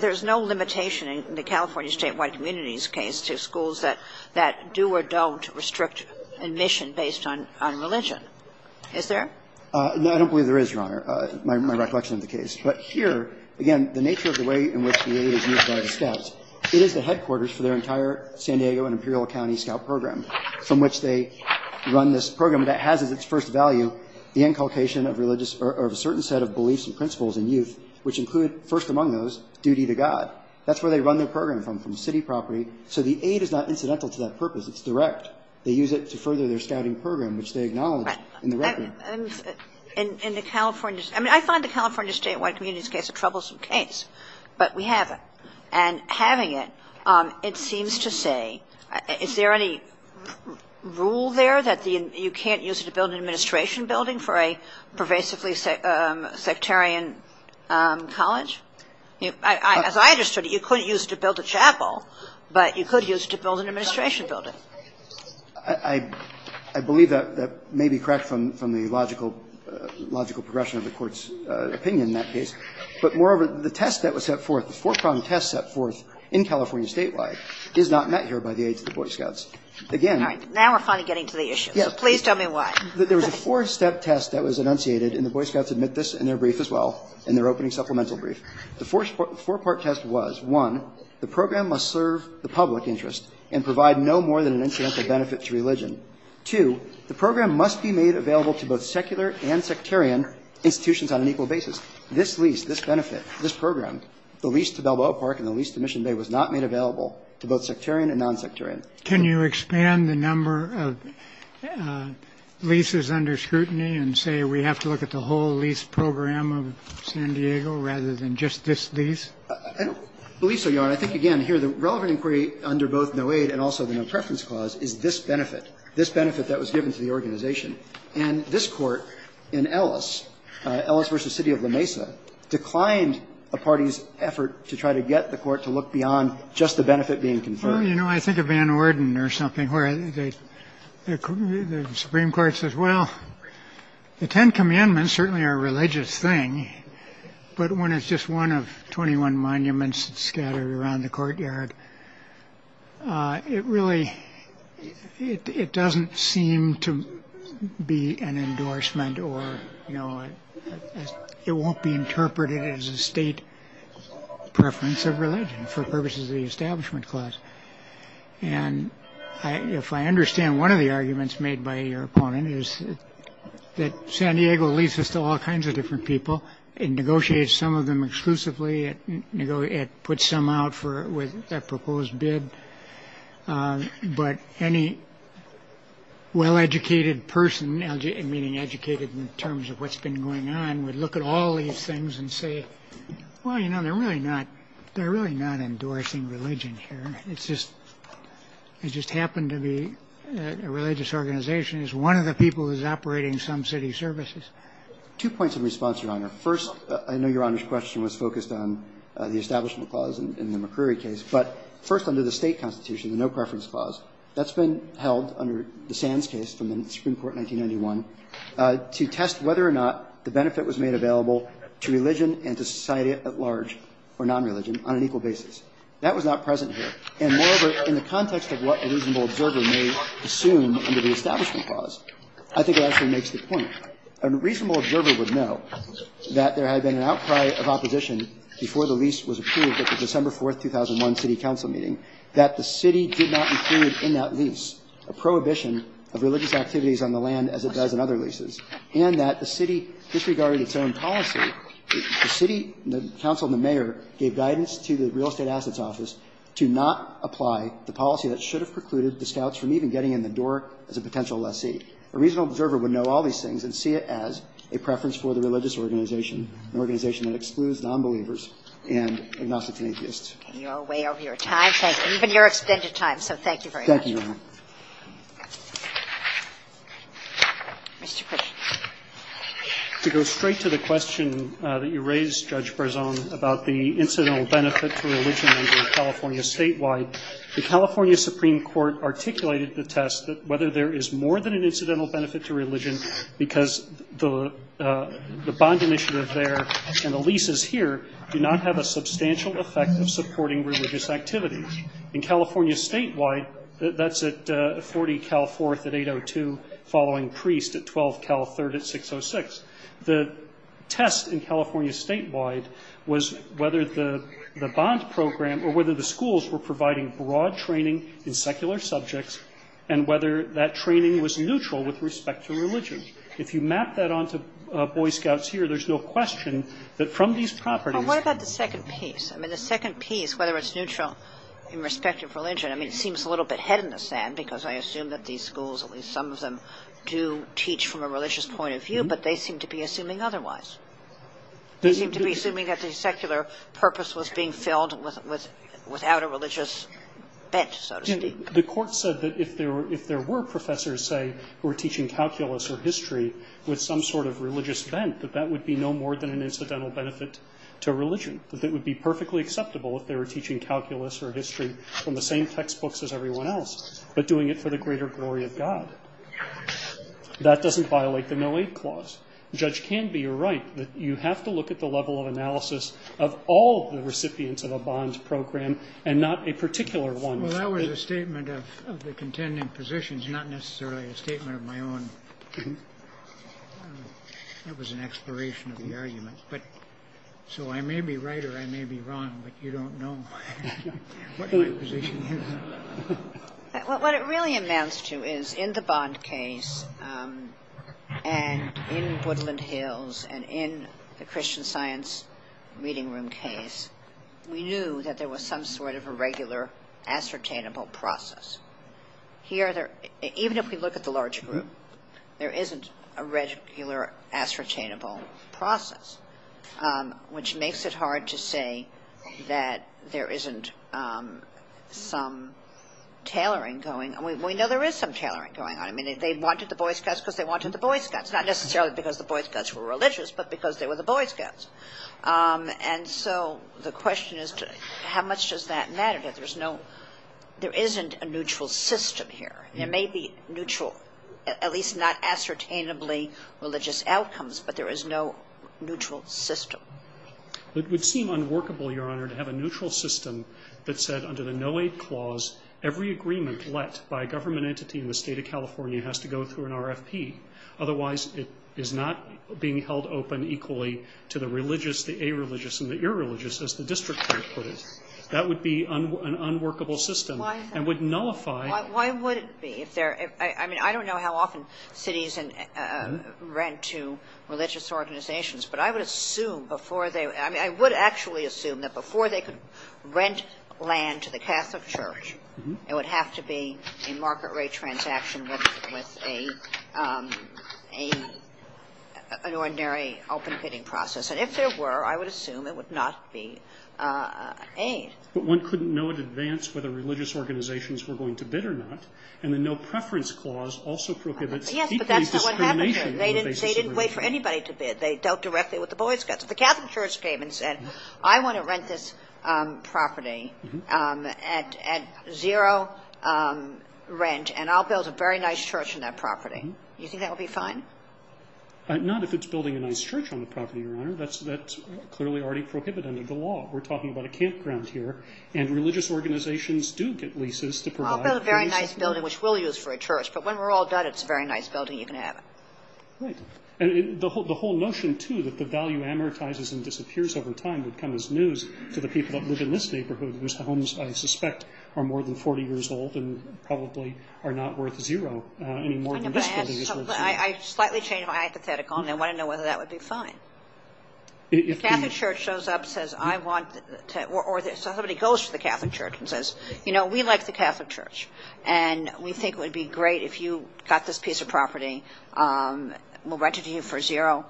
there's no limitation in the California statewide communities case to schools that do or don't restrict admission based on religion. Is there? No, I don't believe there is, Your Honor, my recollection of the case. But here, again, the nature of the way in which the aid is used by the scouts, it is the headquarters for their entire San Diego and Imperial County scout program from which they run this program that has as its first value the inculcation of religious ‑‑ or of a certain set of beliefs and principles in youth, which That's where they run their program from, from city property. So the aid is not incidental to that purpose. It's direct. They use it to further their scouting program, which they acknowledge in the record. In the California ‑‑ I mean, I find the California statewide communities case a troublesome case, but we have it. And having it, it seems to say, is there any rule there that you can't use it to build an administration building for a pervasively sectarian college? As I understood it, you couldn't use it to build a chapel, but you could use it to build an administration building. I believe that may be correct from the logical progression of the Court's opinion in that case. But moreover, the test that was set forth, the four‑prong test set forth in California statewide is not met here by the aid to the Boy Scouts. Again ‑‑ All right. Now we're finally getting to the issue. So please tell me why. There was a four‑step test that was enunciated, and the Boy Scouts admit this in their brief as well, in their opening supplemental brief. The four‑part test was, one, the program must serve the public interest and provide no more than an incidental benefit to religion. Two, the program must be made available to both secular and sectarian institutions on an equal basis. This lease, this benefit, this program, the lease to Balboa Park and the lease to Mission Bay was not made available to both sectarian and nonsectarian. Can you expand the number of leases under scrutiny and say we have to look at the whole program of San Diego rather than just this lease? I don't believe so, Your Honor. I think, again, here the relevant inquiry under both no aid and also the no preference clause is this benefit, this benefit that was given to the organization. And this Court in Ellis, Ellis v. City of La Mesa, declined a party's effort to try to get the Court to look beyond just the benefit being conferred. Well, you know, I think of Van Orden or something where the Supreme Court says, well, the Ten Commandments certainly are a religious thing. But when it's just one of 21 monuments scattered around the courtyard, it really it doesn't seem to be an endorsement or, you know, it won't be interpreted as a state preference of religion for purposes of the establishment clause. And if I understand one of the arguments made by your opponent is that San Diego leases to all kinds of different people and negotiates some of them exclusively, you know, it puts some out for with a proposed bid. But any well-educated person, meaning educated in terms of what's been going on, would look at all these things and say, well, you know, they're really not. They're really not endorsing religion here. It's just happened to be a religious organization. It's one of the people who's operating some city services. Two points of response, Your Honor. First, I know Your Honor's question was focused on the establishment clause in the McCrory case. But first, under the State constitution, the no preference clause, that's been held under the Sands case from the Supreme Court in 1991 to test whether or not the benefit was made available to religion and to society at large or non-religion on an equal basis. That was not present here. And moreover, in the context of what a reasonable observer may assume under the establishment clause, I think it actually makes the point. A reasonable observer would know that there had been an outcry of opposition before the lease was approved at the December 4, 2001, city council meeting, that the city did not include in that lease a prohibition of religious activities on the land as it does in other leases, and that the city disregarded its own policy. The city, the council and the mayor gave guidance to the real estate assets office to not apply the policy that should have precluded the scouts from even getting in the door as a potential lessee. A reasonable observer would know all these things and see it as a preference for the religious organization, an organization that excludes nonbelievers and agnostics and atheists. You're way over your time. Even your extended time. So thank you very much. Thank you, Your Honor. Mr. Kruger. To go straight to the question that you raised, Judge Barzon, about the incidental benefit to religion under California statewide, the California Supreme Court articulated the test that whether there is more than an incidental benefit to religion because the bond initiative there and the leases here do not have a substantial effect of supporting religious activity. In California statewide, that's at 40 Cal 4th at 802, following priest at 12 Cal 3rd at 606. The test in California statewide was whether the bond program or whether the schools were providing broad training in secular subjects and whether that training was neutral with respect to religion. If you map that onto Boy Scouts here, there's no question that from these properties Well, what about the second piece? I mean, the second piece, whether it's neutral in respect of religion, I mean, seems a little bit head in the sand because I assume that these schools, at least some of them, do teach from a religious point of view, but they seem to be assuming otherwise. They seem to be assuming that the secular purpose was being filled without a religious bent, so to speak. The court said that if there were professors, say, who were teaching calculus or history with some sort of religious bent, that that would be no more than an perfectly acceptable if they were teaching calculus or history from the same textbooks as everyone else, but doing it for the greater glory of God. That doesn't violate the no-aid clause. The judge can be right that you have to look at the level of analysis of all the recipients of a bond program and not a particular one. Well, that was a statement of the contending positions, not necessarily a statement of my own. That was an exploration of the argument. So I may be right or I may be wrong, but you don't know what my position is. What it really amounts to is in the Bond case and in Woodland Hills and in the Christian Science Reading Room case, we knew that there was some sort of a regular ascertainable process. Here, even if we look at the large group, there isn't a regular ascertainable process, which makes it hard to say that there isn't some tailoring going. We know there is some tailoring going on. I mean, they wanted the boy scouts because they wanted the boy scouts, not necessarily because the boy scouts were religious, but because they were the boy scouts. And so the question is, how much does that matter? There isn't a neutral system here. There may be neutral, at least not ascertainably religious outcomes, but there is no neutral system. It would seem unworkable, Your Honor, to have a neutral system that said under the no-aid clause, every agreement let by a government entity in the State of California has to go through an RFP. Otherwise, it is not being held open equally to the religious, the areligious and the irreligious, as the district court put it. That would be an unworkable system and would nullify. Why would it be? I mean, I don't know how often cities rent to religious organizations, but I would assume before they – I mean, I would actually assume that before they could rent land to the Catholic Church, it would have to be a market rate transaction with an ordinary open bidding process. And if there were, I would assume it would not be an aid. But one couldn't know in advance whether religious organizations were going to bid or not. And the no-preference clause also prohibits equally discrimination on the basis of religion. Yes, but that's not what happened here. They didn't wait for anybody to bid. They dealt directly with the boy scouts. If the Catholic Church came and said, I want to rent this property at zero rent and I'll build a very nice church on that property, you think that would be fine? Not if it's building a nice church on the property, Your Honor. That's clearly already prohibited under the law. We're talking about a campground here. And religious organizations do get leases to provide – I'll build a very nice building, which we'll use for a church. But when we're all done, it's a very nice building. You can have it. Right. And the whole notion, too, that the value amortizes and disappears over time would come as news to the people that live in this neighborhood, whose homes, than this building is worth zero. I slightly changed my hypothetical, and I want to know whether that would be fine. If the Catholic Church shows up and says, I want to – or somebody goes to the Catholic Church and says, you know, we like the Catholic Church and we think it would be great if you got this piece of property. We'll rent it to you for zero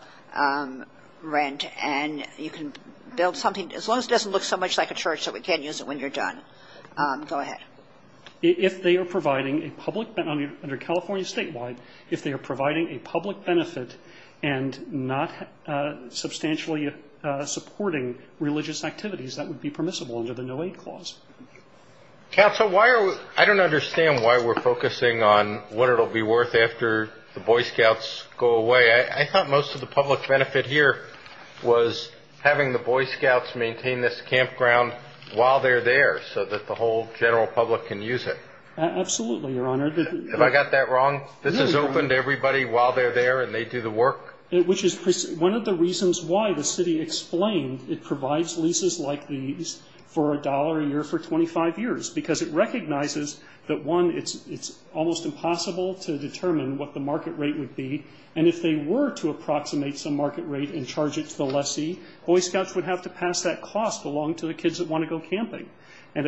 rent, and you can build something. As long as it doesn't look so much like a church that we can't use it when you're done. Go ahead. If they are providing a public – under California statewide, if they are providing a public benefit and not substantially supporting religious activities, that would be permissible under the no-aid clause. Counsel, I don't understand why we're focusing on what it will be worth after the Boy Scouts go away. I thought most of the public benefit here was having the Boy Scouts maintain this campground while they're there so that the whole general public can use it. Absolutely, Your Honor. Have I got that wrong? This is open to everybody while they're there and they do the work? Which is one of the reasons why the city explained it provides leases like these for a dollar a year for 25 years, because it recognizes that, one, it's almost impossible to determine what the market rate would be, and if they were to approximate some market rate and charge it to the lessee, Boy Scouts would have to pass that cost along to the kids that want to go camping. Let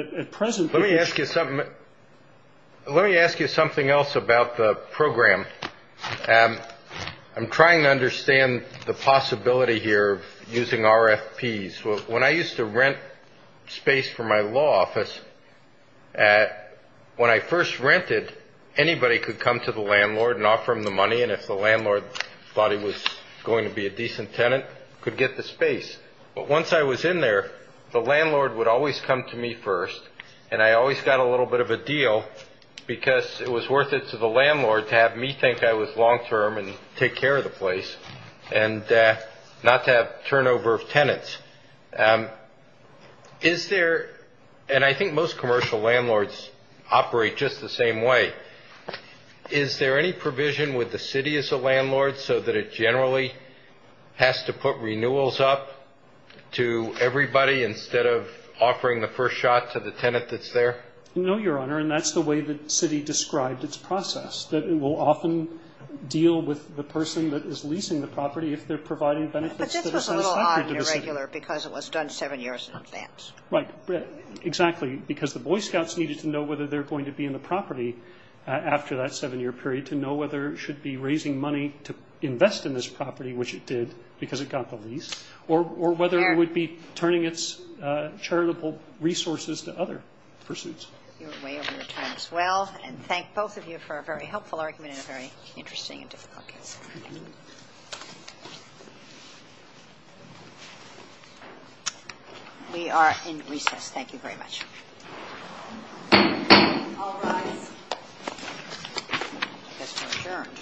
me ask you something else about the program. I'm trying to understand the possibility here of using RFPs. When I used to rent space for my law office, when I first rented, anybody could come to the landlord and offer him the money, and if the landlord thought he was going to be a decent tenant, could get the space. But once I was in there, the landlord would always come to me first, and I always got a little bit of a deal because it was worth it to the landlord to have me think I was long-term and take care of the place and not to have turnover of tenants. Is there, and I think most commercial landlords operate just the same way, is there any provision with the city as a landlord so that it generally has to put renewals up to everybody instead of offering the first shot to the tenant that's there? No, Your Honor, and that's the way the city described its process, that it will often deal with the person that is leasing the property if they're providing benefits. But this was a little odd and irregular because it was done seven years in advance. Right, exactly, because the Boy Scouts needed to know whether they're going to be in the property after that seven-year period to know whether it should be raising money to invest in this property, which it did because it got the lease, or whether it would be turning its charitable resources to other pursuits. You're way over your time as well, and thank both of you for a very helpful argument and a very interesting and difficult case. Thank you. We are in recess. Thank you very much. All rise. This is adjourned.